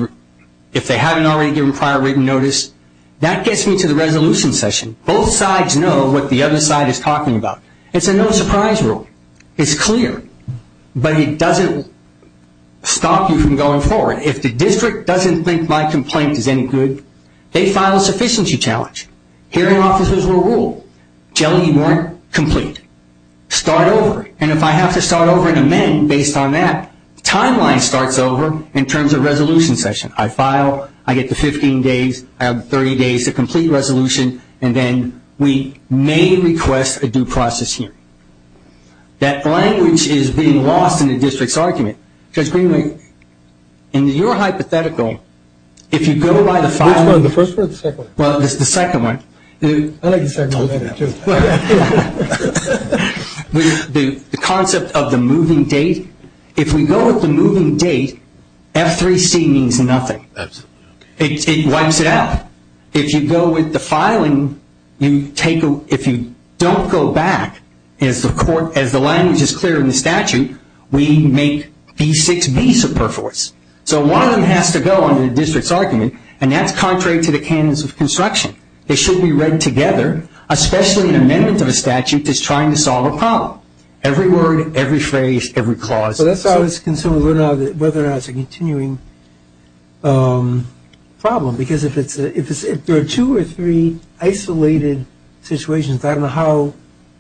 they haven't already given prior written notice. That gets me to the resolution session. Both sides know what the other side is talking about. It's a no surprise rule. It's clear. But it doesn't stop you from going forward. Now, if the district doesn't think my complaint is any good, they file a sufficiency challenge. Hearing offices were ruled. Jelly weren't complete. Start over. And if I have to start over and amend based on that, timeline starts over in terms of resolution session. I file. I get the 15 days. I have 30 days to complete resolution, and then we may request a due process hearing. That language is being lost in the district's argument. Because, Greenlee, in your hypothetical, if you go by the filing. No, the first one or the second one? Well, the second one. I like the second one better, too. The concept of the moving date. If we go with the moving date, F3C means nothing. Absolutely. It wipes it out. If you go with the filing, if you don't go back, as the language is clear in the statute, we make B6B superfluous. So, one of them has to go under the district's argument, and that's contrary to the canons of construction. It should be read together, especially the amendments of a statute that's trying to solve a problem. Every word, every phrase, every clause. So, that's how it's concerned whether or not it's a continuing problem. Because if there are two or three isolated situations, I don't know how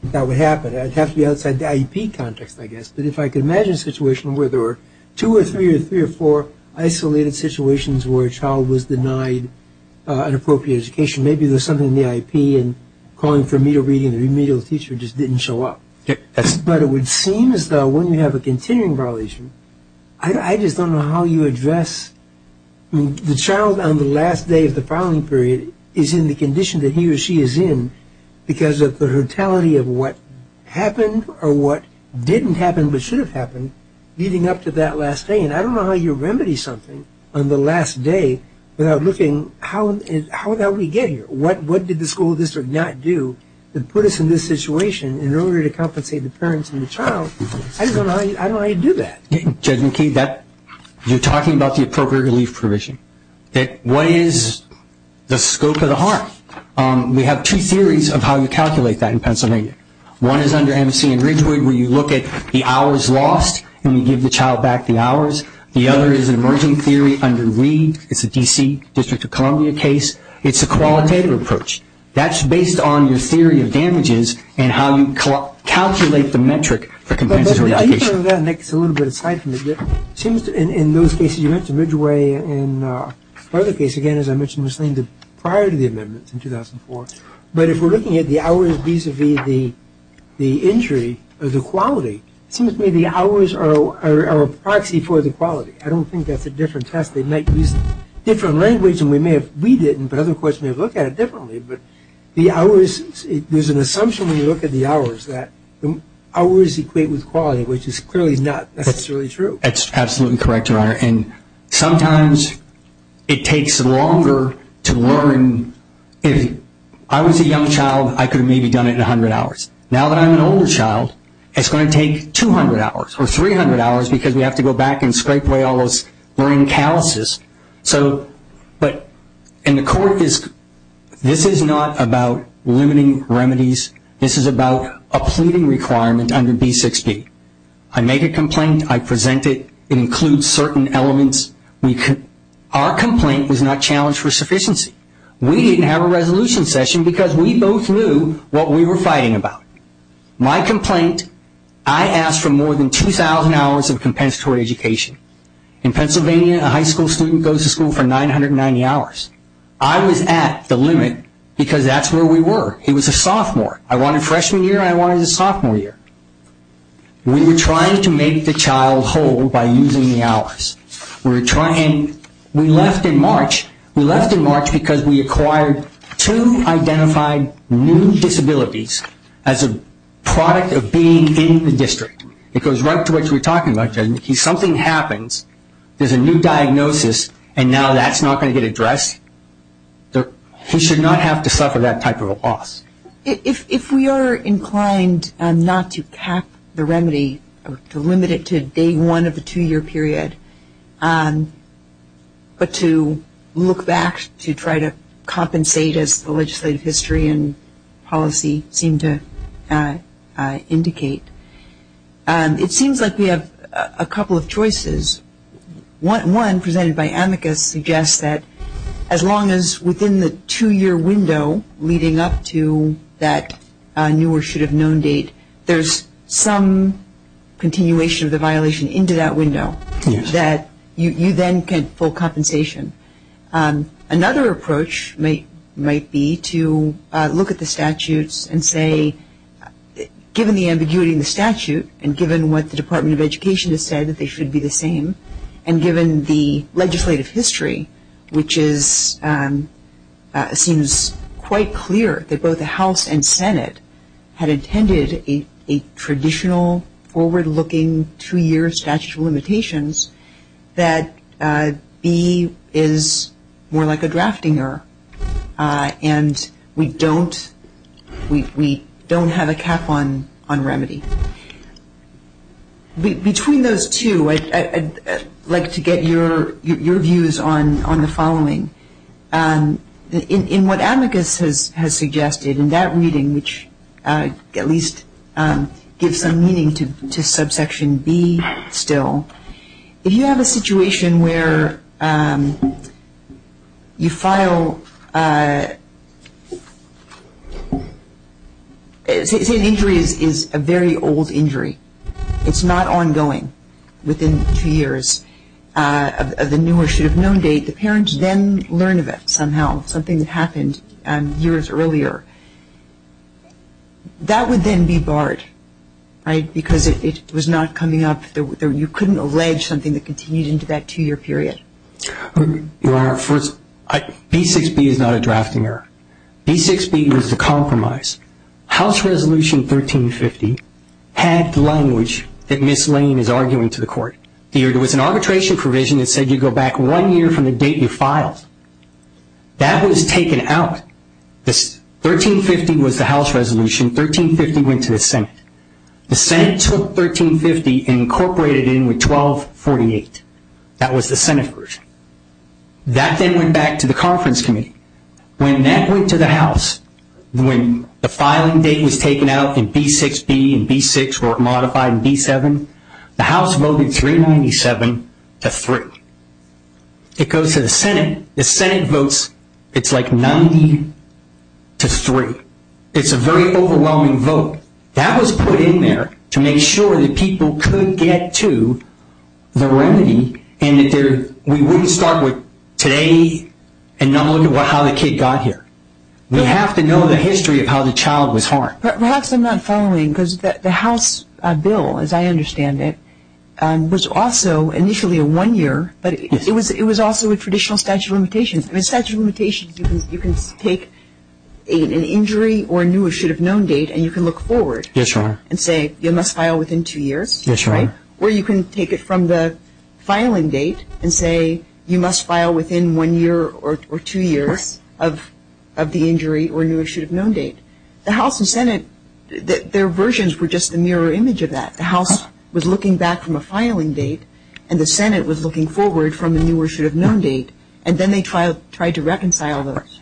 that would happen. It would have to be outside the IEP context, I guess. But if I could imagine a situation where there were two or three or three or four isolated situations where a child was denied an appropriate education, maybe there was something in the IEP and calling for immediate reading and an immediate teacher just didn't show up. But it would seem as though when you have a continuing violation, I just don't know how you address the child on the last day of the filing period is in the condition that he or she is in because of the brutality of what happened or what didn't happen but should have happened leading up to that last day. And I don't know how you remedy something on the last day without looking, how did we get here? What did the school district not do to put us in this situation in order to compensate the parents and the child? I just don't know how you do that. Judge McKee, you're talking about the appropriate relief provision. What is the scope of the harm? We have two theories of how you calculate that in Pennsylvania. One is under M.C. and Ridgewood where you look at the hours lost and you give the child back the hours. The other is an emerging theory under Weed. It's a D.C. District of Columbia case. It's a qualitative approach. That's based on the theory of damages and how you calculate the metric for compensatory allocation. I think some of that makes a little bit of sense. It seems in those cases, you mentioned Ridgeway and the other case, again, as I mentioned, was named prior to the amendments in 2004. But if we're looking at the hours vis-a-vis the injury of the quality, it seems to me the hours are a proxy for the quality. I don't think that's a different test. They might use different language and we may have read it, but other courts may look at it differently. But there's an assumption when you look at the hours that the hours equate with quality, which is clearly not necessarily true. That's absolutely correct, Your Honor. And sometimes it takes longer to learn. If I was a young child, I could have maybe done it in 100 hours. Now that I'm an older child, it's going to take 200 hours or 300 hours because we have to go back and scrape away all those brain calluses. But in the court, this is not about limiting remedies. This is about a pleading requirement under D-60. I make a complaint. I present it. It includes certain elements. Our complaint was not challenged for sufficiency. We didn't have a resolution session because we both knew what we were fighting about. My complaint, I asked for more than 2,000 hours of compensatory education. In Pennsylvania, a high school student goes to school for 990 hours. I was at the limit because that's where we were. He was a sophomore. I wanted freshman year and I wanted a sophomore year. We were trying to make the child whole by using the hours. We left in March. We left in March because we acquired two identified new disabilities as a product of being in the district. It goes right to what you were talking about. If something happens, there's a new diagnosis, and now that's not going to get addressed. He should not have to suffer that type of a loss. If we are inclined not to cap the remedy or to limit it to day one of the two-year period, but to look back to try to compensate as the legislative history and policy seem to indicate, it seems like we have a couple of choices. One presented by Amicus suggests that as long as within the two-year window leading up to that new or should have known date, there's some continuation of the violation into that window, that you then get full compensation. Another approach might be to look at the statutes and say, given the ambiguity in the statute and given what the Department of Education has said, that they should be the same, and given the legislative history, which seems quite clear that both the House and Senate had intended a traditional forward-looking two-year statute of limitations, that B is more like a drafting error and we don't have a cap on remedy. Between those two, I'd like to get your views on the following. In what Amicus has suggested in that reading, which at least gives some meaning to subsection B still, if you have a situation where you file, say an injury is a very old injury. It's not ongoing within two years of the new or should have known date. The parents then learn of it somehow, something that happened years earlier. That would then be barred because it was not coming up. You couldn't allege something that continues into that two-year period. Your Honor, first, B6B is not a drafting error. B6B was the compromise. House Resolution 1350 had the language that Ms. Lane is arguing to the court. There was an arbitration provision that said you go back one year from the date you filed. That was taken out. 1350 was the House Resolution. 1350 went to the Senate. The Senate took 1350 and incorporated it in with 1248. That was the Senate version. That then went back to the Conference Committee. When that went to the House, when the filing date was taken out in B6B and B6 were modified in B7, the House voted 397 to 3. It goes to the Senate. The Senate votes, it's like 90 to 3. It's a very overwhelming vote. That was put in there to make sure that people could get to the remedy and that we wouldn't start with today and no longer how the kid got here. We have to know the history of how the child was harmed. Perhaps I'm not following because the House bill, as I understand it, was also initially a one-year, but it was also a traditional statute of limitations. In a statute of limitations, you can take an injury or a new or should-have-known date and you can look forward and say you must file within two years. Or you can take it from the filing date and say you must file within one year or two years of the injury or new or should-have-known date. The House and Senate, their versions were just a mirror image of that. The House was looking back from a filing date, and the Senate was looking forward from the new or should-have-known date, and then they tried to reconcile those,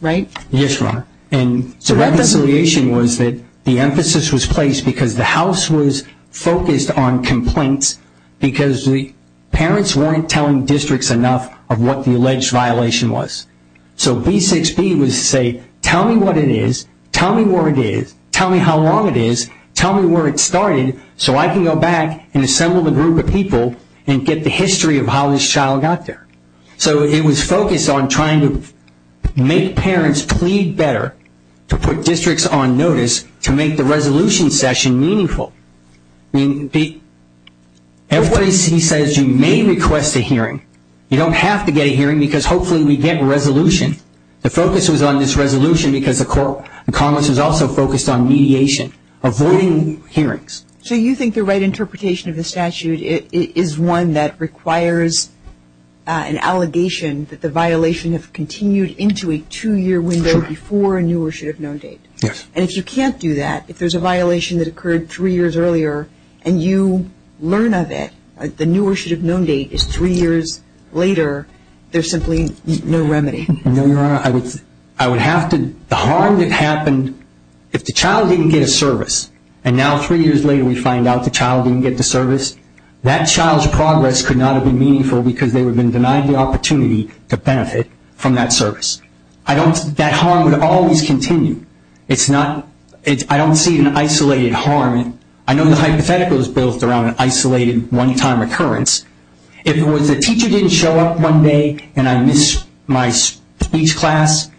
right? Yes, ma'am. And so that reconciliation was that the emphasis was placed because the House was focused on complaints because the parents weren't telling districts enough of what the alleged violation was. So B6B was to say, tell me what it is, tell me where it is, tell me how long it is, tell me where it started so I can go back and assemble a group of people and get the history of how this child got there. So it was focused on trying to make parents plead better to put districts on notice to make the resolution session meaningful. Everybody says you may request a hearing. You don't have to get a hearing because hopefully we get a resolution. The focus was on this resolution because the Congress was also focused on mediation, avoiding hearings. So you think the right interpretation of the statute is one that requires an allegation that the violation has continued into a two-year window before a new or should-have-known date. Yes. And if you can't do that, if there's a violation that occurred three years earlier and you learn of it, the new or should-have-known date is three years later, there's simply no remedy. No, Your Honor. The harm that happened, if the child didn't get a service and now three years later we find out the child didn't get the service, that child's progress could not have been meaningful because they would have been denied the opportunity to benefit from that service. That harm would always continue. I don't see an isolated harm. I know the hypothetical is built around an isolated one-time occurrence. If it was the teacher didn't show up one day and I missed my speech class,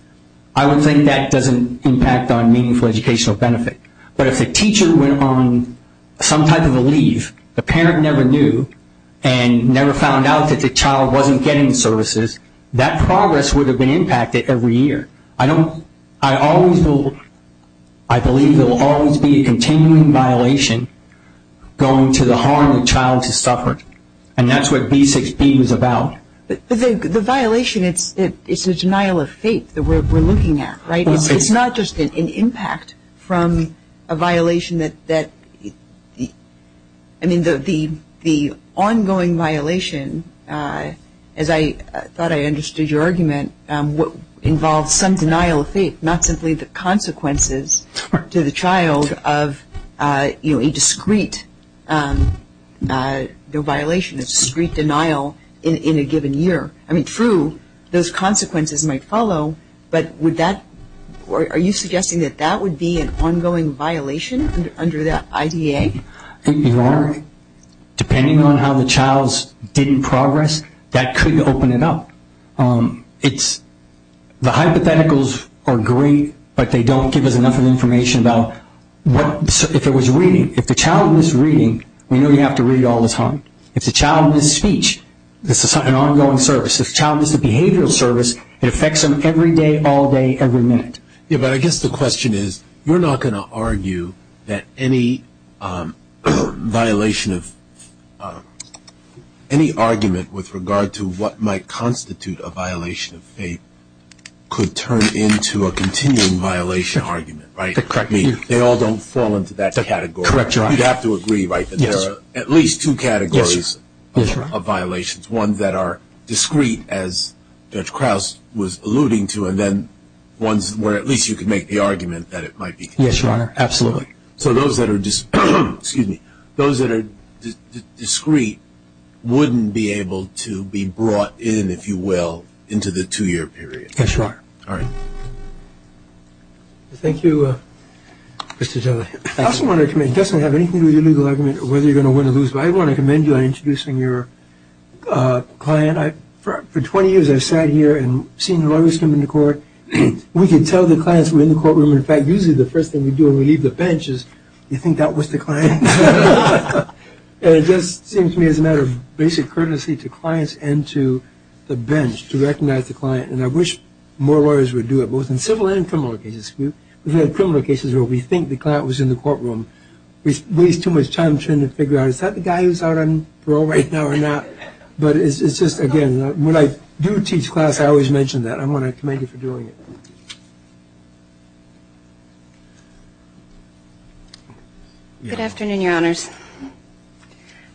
I would think that doesn't impact on meaningful educational benefit. But if the teacher went on some type of a leave, the parent never knew and never found out that the child wasn't getting services, that progress would have been impacted every year. I believe there will always be a continuing violation going to the harm the child has suffered, and that's what B6B is about. The violation is the denial of faith that we're looking at, right? It's not just an impact from a violation that, I mean, the ongoing violation, as I thought I understood your argument, involves some denial of faith, not simply the consequences to the child of a discrete violation, a discrete denial in a given year. I mean, true, those consequences might follow, but are you suggesting that that would be an ongoing violation under the IDA? I think they are. Depending on how the child's didn't progress, that could open it up. The hypotheticals are great, but they don't give us enough information about if it was reading. If the child was reading, we know you have to read all the time. If the child missed a speech, this is an ongoing service. If the child missed a behavioral service, it affects them every day, all day, every minute. Yeah, but I guess the question is, you're not going to argue that any violation of any argument with regard to what might constitute a violation of faith could turn into a continuing violation argument, right? They all don't fall into that category. You'd have to agree, right, that there are at least two categories of violations, one that are discrete, as Judge Krauss was alluding to, and then ones where at least you could make the argument that it might be continuing. Yes, Your Honor, absolutely. So those that are discrete wouldn't be able to be brought in, if you will, into the two-year period. Yes, Your Honor. All right. Thank you, Mr. Zelle. I also want to commend you. I guess I don't have anything to do with whether you're going to win or lose, so I want to commend you on introducing your client. For 20 years I've sat here and seen lawyers come into court. We can tell the clients we're in the courtroom. In fact, usually the first thing we do when we leave the bench is we think that was the client. And it just seems to me as a matter of basic courtesy to clients and to the bench, to recognize the client, and I wish more lawyers would do it, both in civil and criminal cases. We've had criminal cases where we think the client was in the courtroom. We waste too much time trying to figure out, is that the guy who's out on parole right now or not? But it's just, again, when I do teach class, I always mention that. I want to commend you for doing it. Good afternoon, Your Honors.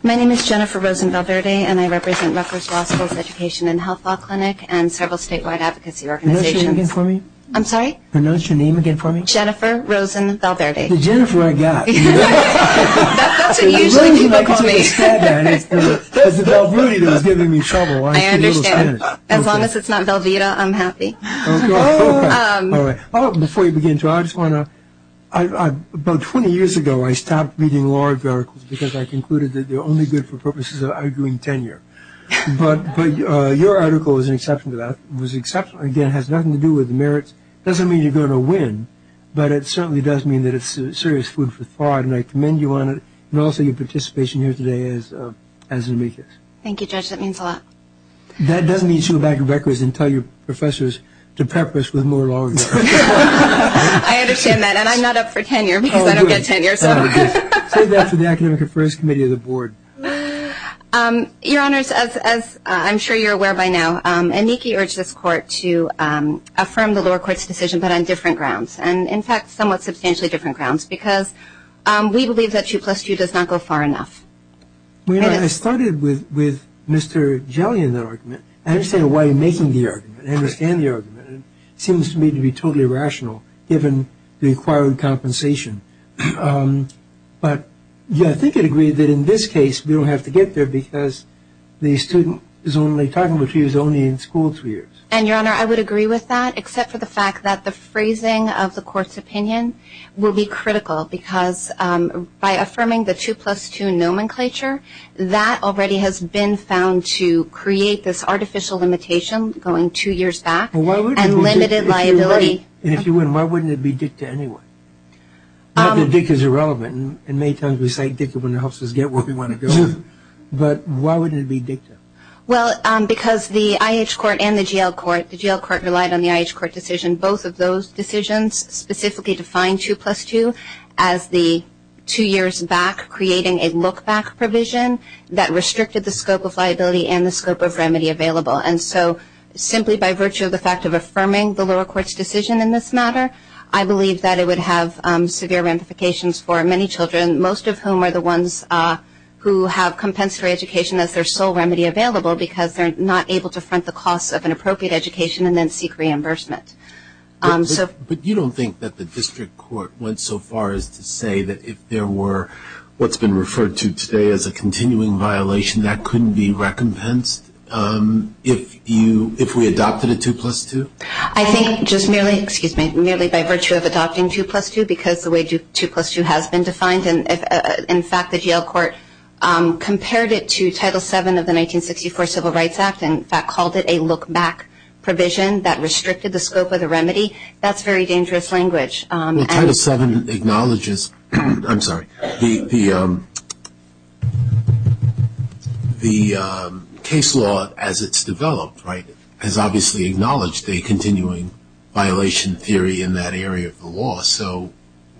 My name is Jennifer Rosen-Valverde, and I represent Rutgers Law School's Education and Health Law Clinic and several statewide advocacy organizations. Pronounce your name again for me. I'm sorry? Pronounce your name again for me. Jennifer Rosen-Valverde. It's Jennifer I got. That's awesome, usually. As long as it's not Velveeta, I'm happy. Okay. All right. Before you begin, too, I just want to – about 20 years ago I stopped reading law articles because I concluded that they're only good for purposes of arguing tenure. But your article was an exception to that. It was an exception. Again, it has nothing to do with merits. It doesn't mean you're going to win, but it certainly does mean that it's serious food for thought, and I commend you on it and also your participation here today as an amicus. Thank you, Judge. That means a lot. That doesn't mean she'll go back to Rutgers and tell your professors to practice with more law. I understand that, and I'm not up for tenure because I don't get tenure. Say that to the Academic Affairs Committee of the Board. Your Honors, as I'm sure you're aware by now, Aniki urged this Court to affirm the lower court's decision, but on different grounds, and in fact somewhat substantially different grounds, because we believe that 2 plus 2 does not go far enough. Well, you know, I started with Mr. Gellion's argument. I understand why you're making the argument. I understand the argument. It seems to me to be totally irrational given the required compensation. But, yeah, I think you'd agree that in this case we don't have to get there because the student is only talking, which means only in school spheres. And, Your Honor, I would agree with that, except for the fact that the phrasing of the Court's opinion will be critical because by affirming the 2 plus 2 nomenclature, that already has been found to create this artificial limitation going two years back and limited liability. And if you wouldn't, why wouldn't it be dicta anyway? Dicta is irrelevant. In many times we say dicta when it helps us get where we want to go. But why would it be dicta? Well, because the IH Court and the GL Court, the GL Court relied on the IH Court decision. Both of those decisions specifically defined 2 plus 2 as the two years back, creating a look-back provision that restricted the scope of liability and the scope of remedy available. And so simply by virtue of the fact of affirming the lower court's decision in this matter, I believe that it would have severe ramifications for many children, most of whom are the ones who have compensatory education as their sole remedy available because they're not able to front the cost of an appropriate education and then seek reimbursement. But you don't think that the district court went so far as to say that if there were what's been referred to today as a continuing violation, that couldn't be recompensed if we adopted a 2 plus 2? I think just merely by virtue of adopting 2 plus 2 because the way 2 plus 2 has been defined, in fact the GL Court compared it to Title VII of the 1964 Civil Rights Act and in fact called it a look-back provision that restricted the scope of the remedy. That's very dangerous language. Title VII acknowledges, I'm sorry, the case law as it's developed, right, has obviously acknowledged a continuing violation theory in that area of the law. So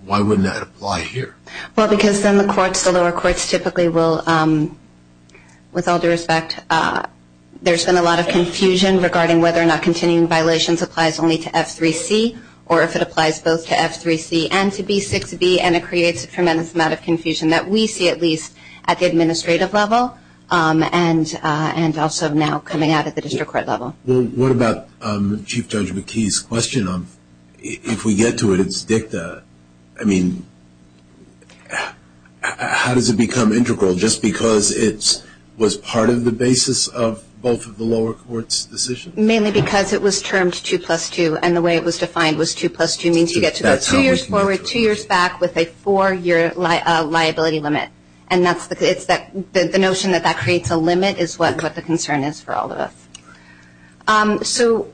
why wouldn't that apply here? Well, because in the courts, the lower courts typically will, with all due respect, there's been a lot of confusion regarding whether or not continuing violations applies only to F3C or if it applies both to F3C and to B6B, and it creates a tremendous amount of confusion that we see at least at the administrative level and also now coming out at the district court level. What about Chief Judge McKee's question? If we get to its dicta, I mean, how does it become integral? Just because it was part of the basis of both of the lower courts' decisions? Mainly because it was termed 2 plus 2 and the way it was defined was 2 plus 2 means you get to go two years forward, two years back with a four-year liability limit. And the notion that that creates a limit is what the concern is for all of us. So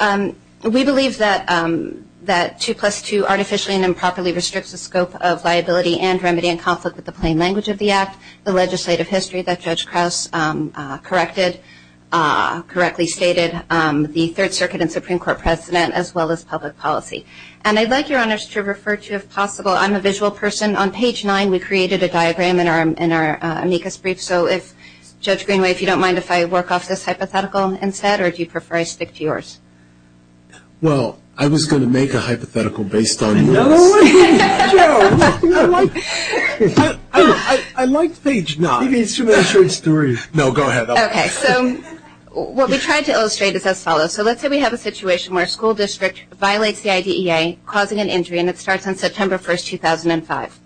we believe that 2 plus 2 artificially and improperly restricts the scope of liability and remedy in conflict with the plain language of the Act, the legislative history that Judge Crouse correctly stated, the Third Circuit and Supreme Court precedent, as well as public policy. And I'd like, Your Honors, to refer to, if possible, I'm a visual person. On page 9, we created a diagram in our amicus brief. So, Judge Greenway, if you don't mind, if I work off this hypothetical instead, or do you prefer I stick to yours? Well, I was going to make a hypothetical based on your answer. I like page 9. No, go ahead. Okay. So what we tried to illustrate is as follows. So let's say we have a situation where a school district violates the IDEA, causing an injury, and it starts on September 1, 2005.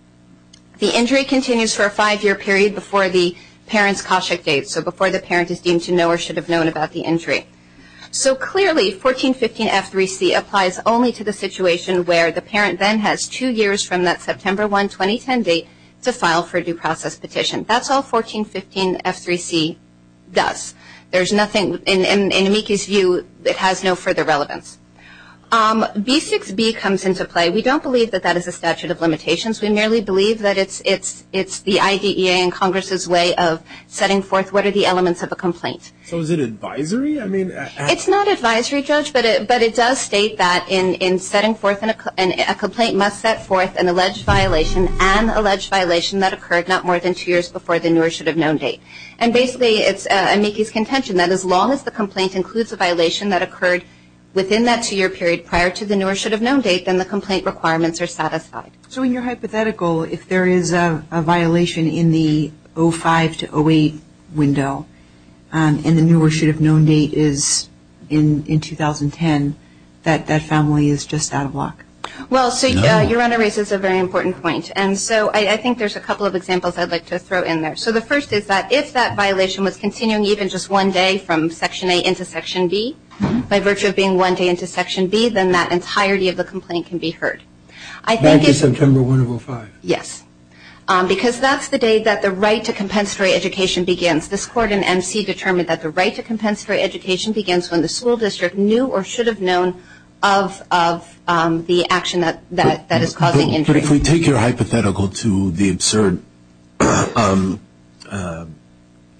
The injury continues for a five-year period before the parent's CASHA date, so before the parent is deemed to know or should have known about the injury. So clearly, 1415F3C applies only to the situation where the parent then has two years from that September 1, 2010 date to file for a due process petition. That's all 1415F3C does. There's nothing in amicus view that has no further relevance. B6B comes into play. We don't believe that that is a statute of limitations. We merely believe that it's the IDEA and Congress' way of setting forth what are the elements of a complaint. So is it advisory? It's not advisory, Judge, but it does state that in setting forth and a complaint must set forth an alleged violation and alleged violation that occurred not more than two years before the newer should have known date. And basically, it's amicus contention that as long as the complaint includes a violation that occurred within that two-year period prior to the newer should have known date, then the complaint requirements are satisfied. So in your hypothetical, if there is a violation in the 05 to 08 window and the newer should have known date is in 2010, that family is just out of luck. Well, so your honor raises a very important point, and so I think there's a couple of examples I'd like to throw in there. So the first is that if that violation was continuing even just one day from Section A into Section B, by virtue of being one day into Section B, then that entirety of the complaint can be heard. I think it's... Right to September 1 of 05. Yes. Because that's the day that the right to compensatory education begins. This court in MC determined that the right to compensatory education begins when the school district knew or should have known of the action that is causing injury. If we take your hypothetical to the absurd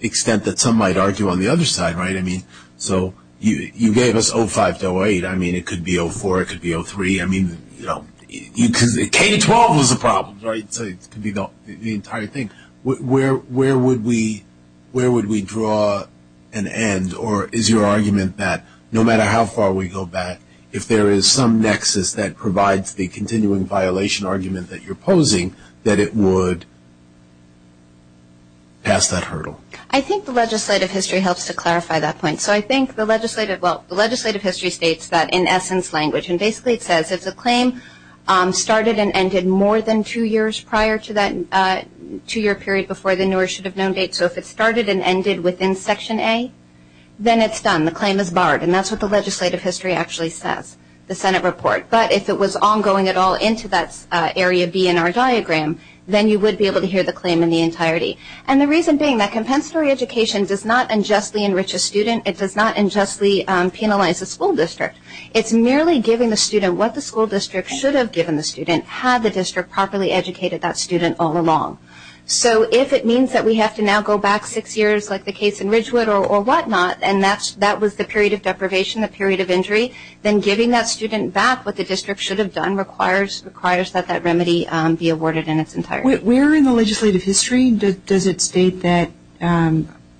extent that some might argue on the other side, right? I mean, so you gave us 05 to 08. I mean, it could be 04. It could be 03. I mean, you know, K-12 was the problem, right? So it could be the entire thing. Where would we draw an end, or is your argument that no matter how far we go back, if there is some nexus that provides the continuing violation argument that you're posing, that it would pass that hurdle? I think the legislative history helps to clarify that point. So I think the legislative, well, the legislative history states that in essence language, and basically it says if the claim started and ended more than two years prior to that two-year period before the knew or should have known date, so if it started and ended within Section A, then it's done. The claim is barred, and that's what the legislative history actually says, the Senate report. But if it was ongoing at all into that Area B in our diagram, then you would be able to hear the claim in the entirety. And the reason being that compensatory education does not unjustly enrich a student. It does not unjustly penalize a school district. It's merely giving the student what the school district should have given the student had the district properly educated that student all along. So if it means that we have to now go back six years like the case in Ridgewood or whatnot, and that was the period of deprivation, the period of injury, then giving that student back what the district should have done requires that that remedy be awarded in its entirety. Where in the legislative history does it state that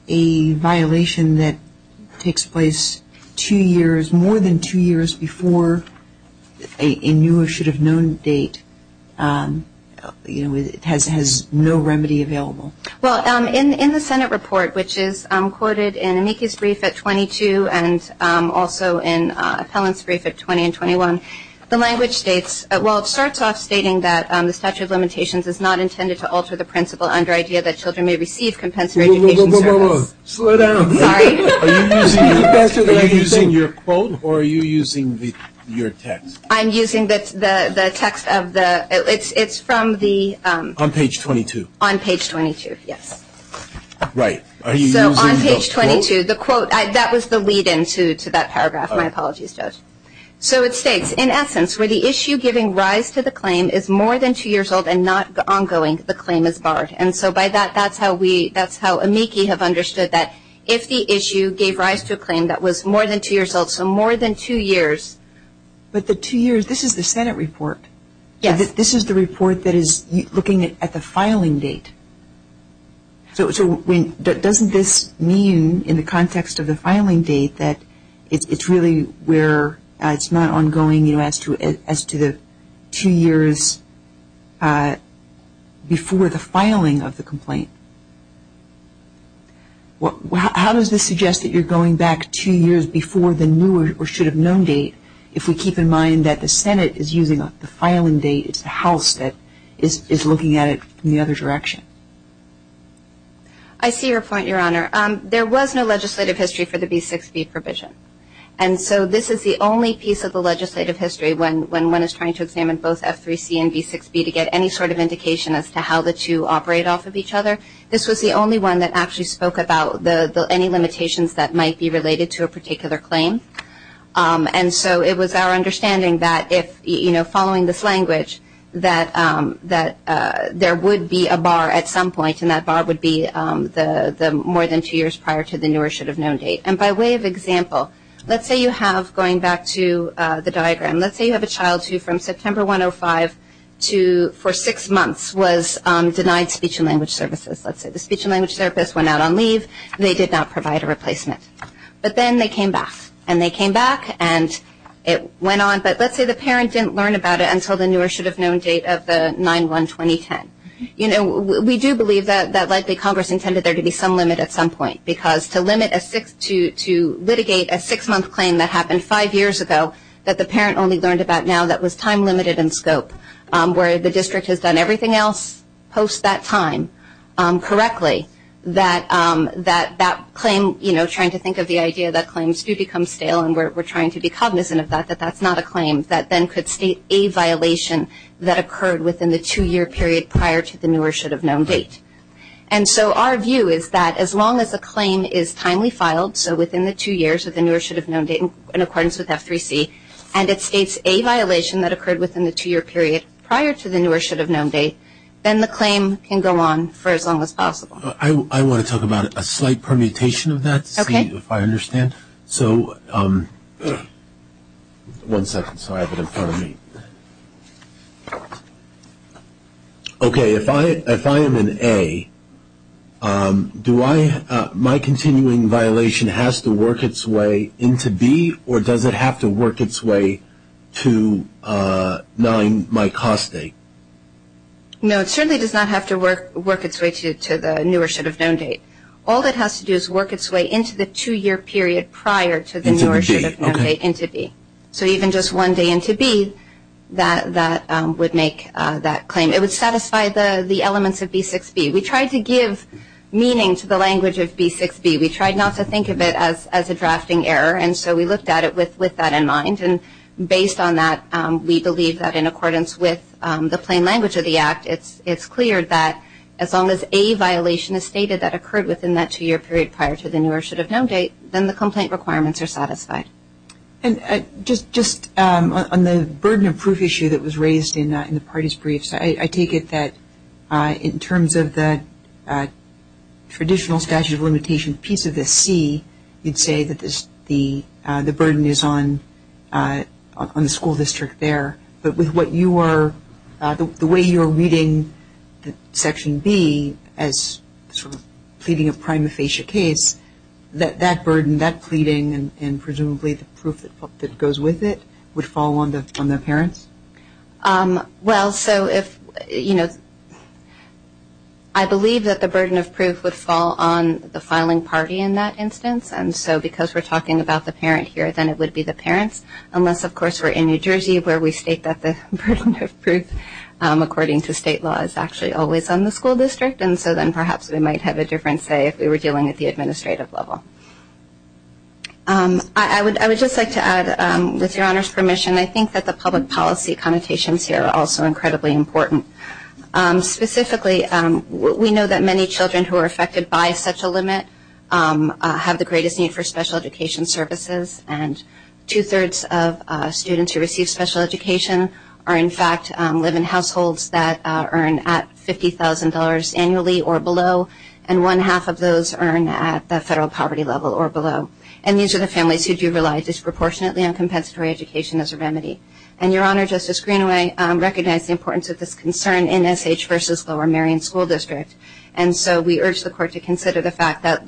a violation that takes place two years, more than two years before a knew or should have known date has no remedy available? Well, in the Senate report, which is quoted in Niki's brief at 22 and also in Helen's brief at 20 and 21, the language states, well, it starts off stating that the statute of limitations is not intended to alter the principle under the idea that children may receive compensatory education. Whoa, whoa, whoa, whoa, slow down. Sorry. Are you using your quote or are you using your text? I'm using the text of the ‑‑ it's from the ‑‑ On page 22. On page 22, yes. Right. So on page 22, the quote, that was the lead-in to that paragraph, my apologies to us. So it states, in essence, where the issue giving rise to the claim is more than two years old and not ongoing, the claim is barred. And so by that, that's how Amiki have understood that if the issue gave rise to a claim that was more than two years old, so more than two years. But the two years, this is the Senate report. Yes. This is the report that is looking at the filing date. So doesn't this mean in the context of the filing date that it's really where it's not ongoing as to the two years before the filing of the complaint? How does this suggest that you're going back two years before the new or should have known date if we keep in mind that the Senate is using the filing date, it's the House that is looking at it in the other direction? I see your point, Your Honor. There was no legislative history for the B6B provision. And so this is the only piece of the legislative history when one is trying to examine both F3C and B6B to get any sort of indication as to how the two operate off of each other. This was the only one that actually spoke about any limitations that might be related to a particular claim. And so it was our understanding that if, you know, following this language that there would be a bar at some point and that bar would be the more than two years prior to the new or should have known date. And by way of example, let's say you have, going back to the diagram, let's say you have a child who from September 105 to for six months was denied speech and language services. Let's say the speech and language therapist went out on leave. They did not provide a replacement. But then they came back, and they came back, and it went on. But let's say the parent didn't learn about it until the new or should have known date of the 9-1-2010. You know, we do believe that likely Congress intended there to be some limit at some point because to limit a six to litigate a six-month claim that happened five years ago that the parent only learned about now, that was time limited in scope, where the district has done everything else post that time correctly, that that claim, you know, trying to think of the idea that claims do become stale, and we're trying to be cognizant of that, that that's not a claim that then could state a violation that occurred within the two-year period prior to the new or should have known date. And so our view is that as long as a claim is timely filed, so within the two years of the new or should have known date in accordance with F3C, and it states a violation that occurred within the two-year period prior to the new or should have known date, then the claim can go on for as long as possible. I want to talk about a slight permutation of that to see if I understand. Okay. So one second so I have it in front of me. Okay. If I am in A, do I, my continuing violation has to work its way into B, or does it have to work its way to knowing my cost date? No, it certainly does not have to work its way to the new or should have known date. All it has to do is work its way into the two-year period prior to the new or should have known date into B. So even just one day into B, that would make that claim. It would satisfy the elements of B6B. We tried to give meaning to the language of B6B. We tried not to think of it as addressing error, and so we looked at it with that in mind. Based on that, we believe that in accordance with the plain language of the Act, it's clear that as long as a violation is stated that occurred within that two-year period prior to the new or should have known date, then the complaint requirements are satisfied. Just on the burden of proof issue that was raised in the parties' briefs, I take it that in terms of the traditional statute of limitations piece of this C, you'd say that the burden is on the school district there. But with what you are, the way you're reading Section B as sort of pleading a prima facie case, that burden, that pleading, and presumably the proof that goes with it, would fall on the parents? Well, so if, you know, I believe that the burden of proof would fall on the filing party in that instance, and so because we're talking about the parent here, then it would be the parents, unless, of course, we're in New Jersey where we state that the burden of proof, according to state law, is actually always on the school district, and so then perhaps we might have a different say if we were dealing at the administrative level. I would just like to add, with your Honor's permission, I think that the public policy connotations here are also incredibly important. Specifically, we know that many children who are affected by such a limit have the greatest need for special education services, and two-thirds of students who receive special education are, in fact, live in households that earn at $50,000 annually or below, and one-half of those earn at the federal poverty level or below. And these are the families who do rely disproportionately on compensatory education as a remedy. And your Honor, Justice Greenway recognized the importance of this concern in SH versus Lower Marion School District, and so we urge the Court to consider the fact that,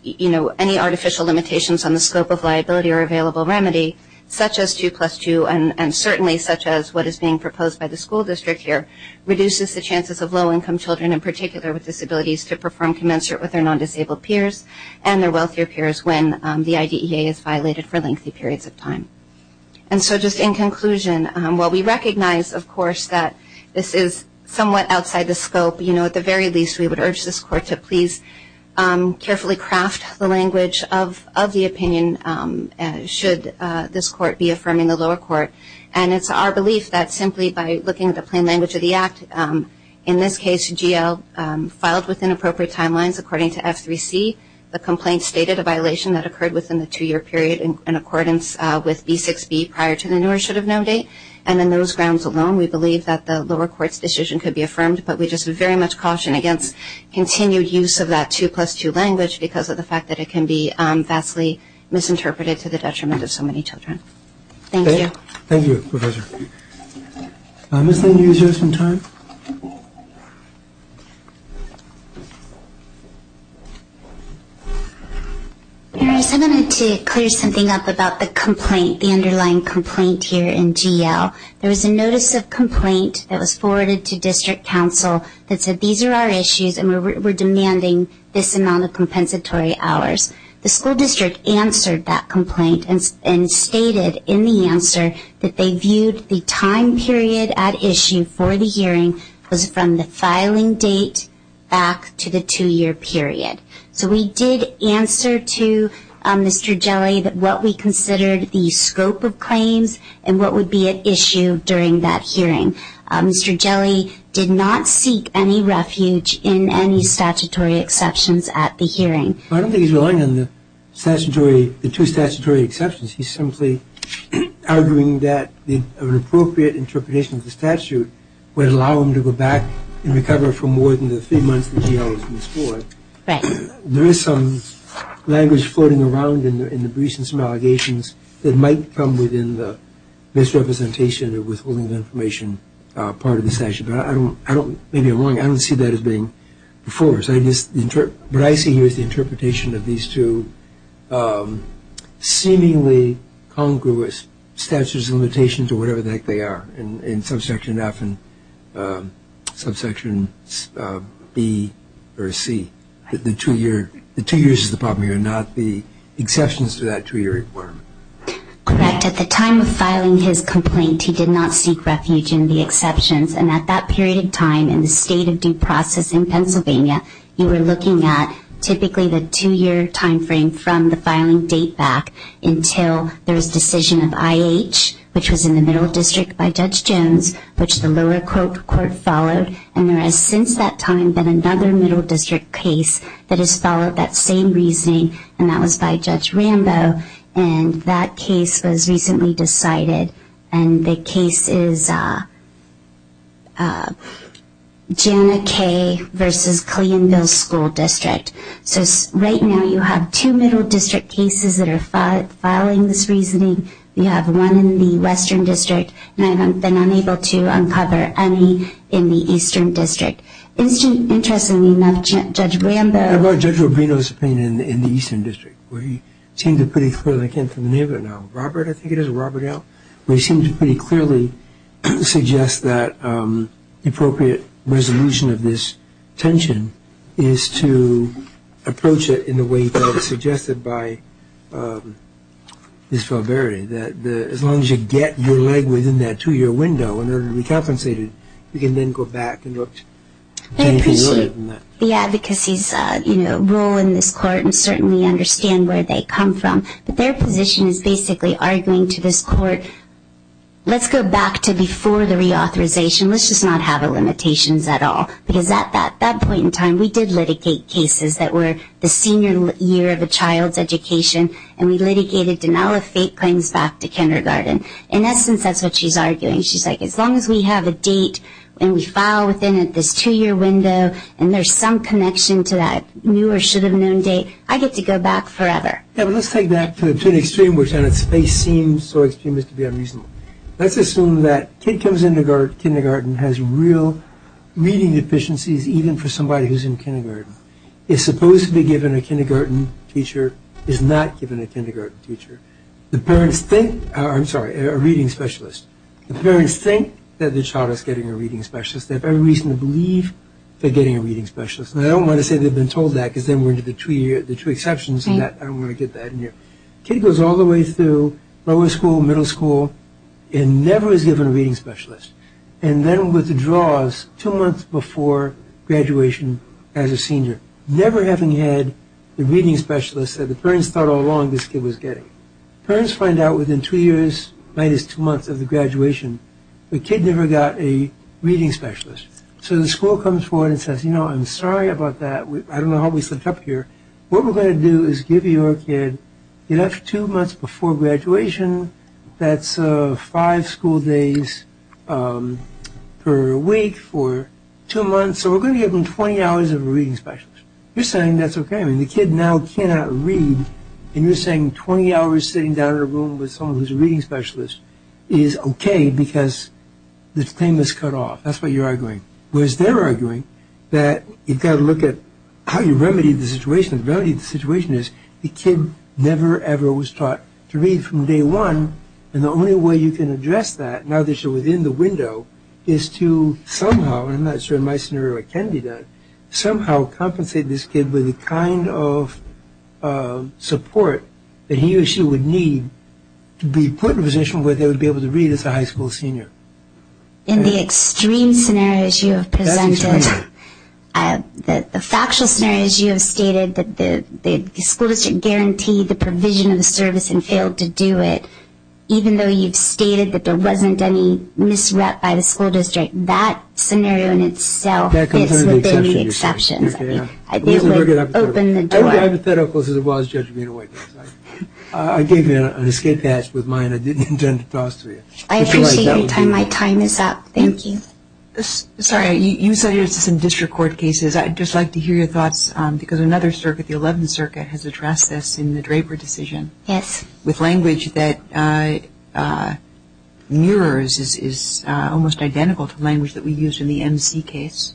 you know, any artificial limitations on the scope of liability or available remedy, such as 2 plus 2, and certainly such as what is being proposed by the school district here, reduces the chances of low-income children, in particular with disabilities, to perform commensurate with their non-disabled peers and their wealthier peers when the IDEA is violated for lengthy periods of time. And so just in conclusion, while we recognize, of course, that this is somewhat outside the scope, you know, at the very least we would urge this Court to please carefully craft the language of the opinion should this Court be affirming the lower court. And it's our belief that simply by looking at the plain language of the Act, in this case GL filed with inappropriate timelines according to F3C. The complaint stated a violation that occurred within the two-year period in accordance with B6B prior to the newer should-have-known date. And on those grounds alone, we believe that the lower court's decision could be affirmed, but we just very much caution against continued use of that 2 plus 2 language because of the fact that it can be vastly misinterpreted to the detriment of so many children. Thank you. Thank you, Professor. Ms. Bingham, do you have some time? I just wanted to clear something up about the complaint, the underlying complaint here in GL. There was a notice of complaint that was forwarded to district counsel that said these are our issues and we're demanding this amount of compensatory hours. The school district answered that complaint and stated in the answer that they viewed the time period at issue for the hearing from the filing date back to the two-year period. So we did answer to Mr. Gelli what we considered the scope of claims and what would be at issue during that hearing. Mr. Gelli did not seek any refuge in any statutory exceptions at the hearing. I don't think he's relying on the two statutory exceptions. He's simply arguing that an appropriate interpretation of the statute would allow him to go back and recover for more than the three months that he was in school. There is some language floating around in the briefs and some allegations that might come within the misrepresentation or withholding information part of the statute. Maybe I'm wrong. I don't see that as being the force. What I see here is the interpretation of these two seemingly congruous statutes and limitations or whatever the heck they are in subsection F and subsection B or C. The two years is the problem here and not the exceptions to that two-year requirement. Correct. At the time of filing his complaint, he did not seek refuge in the exceptions and at that period of time in the state of due process in Pennsylvania, you were looking at typically the two-year timeframe from the filing date back until there was decision of IH, which was in the middle district by Judge Jones, which the lower court followed. There has since that time been another middle district case that has followed that same reasoning and that was by Judge Rambo. That case was recently decided. The case is Janakay v. Colleenville School District. Right now, you have two middle district cases that are filing this reasoning. You have one in the western district. I have been unable to uncover any in the eastern district. Interestingly enough, Judge Rambo- Robert, I think it is, Robert L., they seem to pretty clearly suggest that the appropriate resolution of this tension is to approach it in the way that was suggested by Ms. Valverde, that as long as you get your leg within that two-year window in order to be compensated, you can then go back and look at anything other than that. Yeah, because his role in this court and certainly understand where they come from. Their position is basically arguing to this court, let's go back to before the reauthorization. Let's just not have the limitations at all. At that point in time, we did litigate cases that were the senior year of a child's education and we litigated denial of state claims back to kindergarten. In essence, that's what she's arguing. She's like, as long as we have a date and we file within this two-year window and there's some connection to that new or should-have-known date, I get to go back forever. Let's take that to the extreme, which on its face seems so extreme as to be unreasonable. Let's assume that a kid who comes into kindergarten has real reading deficiencies even for somebody who's in kindergarten. Is supposed to be given a kindergarten teacher, is not given a kindergarten teacher. The parents think, I'm sorry, a reading specialist. The parents think that the child is getting a reading specialist. They have every reason to believe they're getting a reading specialist. And I don't want to say they've been told that because then we're into the two exceptions. I don't want to get that in here. Kid goes all the way through lower school, middle school, and never is given a reading specialist. And then withdraws two months before graduation as a senior, never having had the reading specialist that the parents thought all along this kid was getting. Parents find out within two years minus two months of the graduation the kid never got a reading specialist. So the school comes forward and says, you know, I'm sorry about that. I don't know how we slipped up here. What we're going to do is give your kid, you know, two months before graduation, that's five school days per week for two months. So we're going to give them 20 hours of a reading specialist. You're saying that's okay. I mean, the kid now cannot read and you're saying 20 hours sitting down in a room with someone who's a reading specialist is okay because his pain is cut off. That's what you're arguing. Whereas they're arguing that you've got to look at how you remedy the situation. The remedy to the situation is the kid never, ever was taught to read from day one, and the only way you can address that now that you're within the window is to somehow, and I'm not sure in my scenario it can be done, but somehow compensate this kid with the kind of support that he or she would need to be put in a position where they would be able to read as a high school senior. In the extreme scenarios you have presented, the factual scenarios you have stated, that the school district guaranteed the provision of the service and failed to do it, even though you've stated that there wasn't any misrep by the school district, that scenario in itself would be the exception. It would open the door. I'm as hypothetical as it was judging your witness. I gave you an escape hatch with mine. I didn't intend to toss to you. I can see that my time is up. Thank you. Sorry, you said it's in district court cases. I'd just like to hear your thoughts because another circuit, the 11th Circuit, has addressed this in the Draper decision. Yes. With language that mirrors, is almost identical to language that we used in the MC case.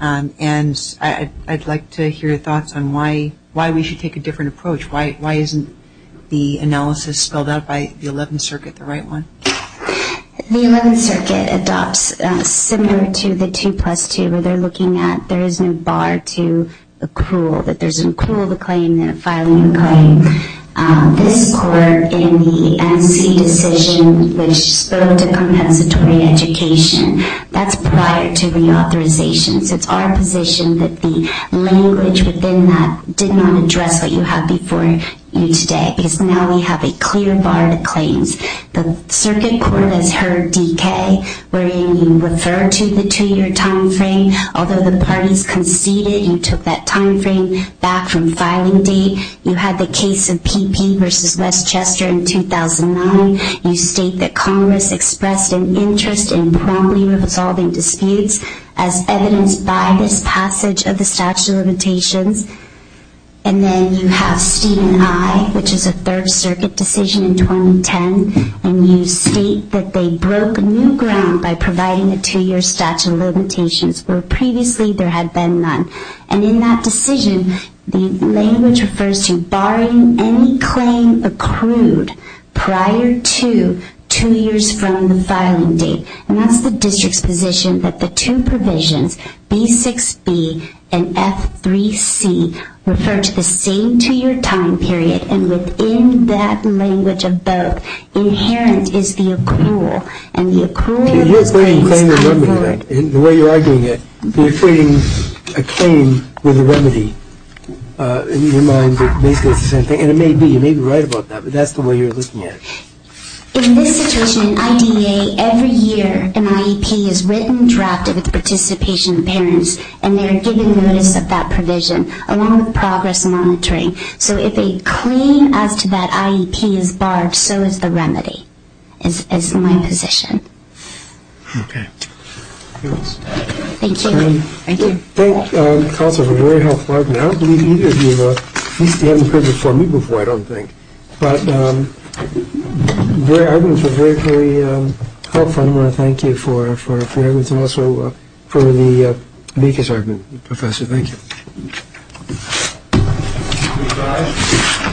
And I'd like to hear your thoughts on why we should take a different approach. Why isn't the analysis spelled out by the 11th Circuit the right one? The 11th Circuit adopts similar to the 2 plus 2 where they're looking at there is no bar to accrual, that there's an accrual of a claim and a filing of a claim. In this court, in the MC decision, which spoke to compensatory education, that's prior to reauthorization. It's our position that the language within that did not address what you have before you today. Now we have a clear bar to claims. The circuit court has heard DK wherein you referred to the two-year time frame. Although the parties conceded, you took that time frame back from filing B. You had the case of PP versus Westchester in 2009. You state that Congress expressed an interest in promptly resolving disputes as evident by this passage of the statute of limitations. And then you have C&I, which is a 3rd Circuit decision in 2010. And you state that they broke new ground by providing a two-year statute of limitations where previously there had been none. And in that decision, the language refers to barring any claim accrued prior to two years from the filing date. And that's the district's position that the two provisions, B6B and F3C, refer to the same two-year time period. And within that language of both, inherent is the accrual. You're not claiming a remedy. The way you are doing it, you're creating a claim with a remedy in your mind that makes sense. And it may be. You may be right about that, but that's the way you're looking at it. In this situation, an IEPA, every year an IEP is written, drafted with participation of parents, and they are given a list of that provision along with progress monitoring. So if a claim up to that IEP is barred, so is the remedy. That's my position. Okay. Thank you. Thank you. That's helpful. A very helpful argument. I don't believe either of you have heard this from me before, I don't think. But I think it's very, very helpful. And also for the makers argument, Professor. Thank you. Thank you.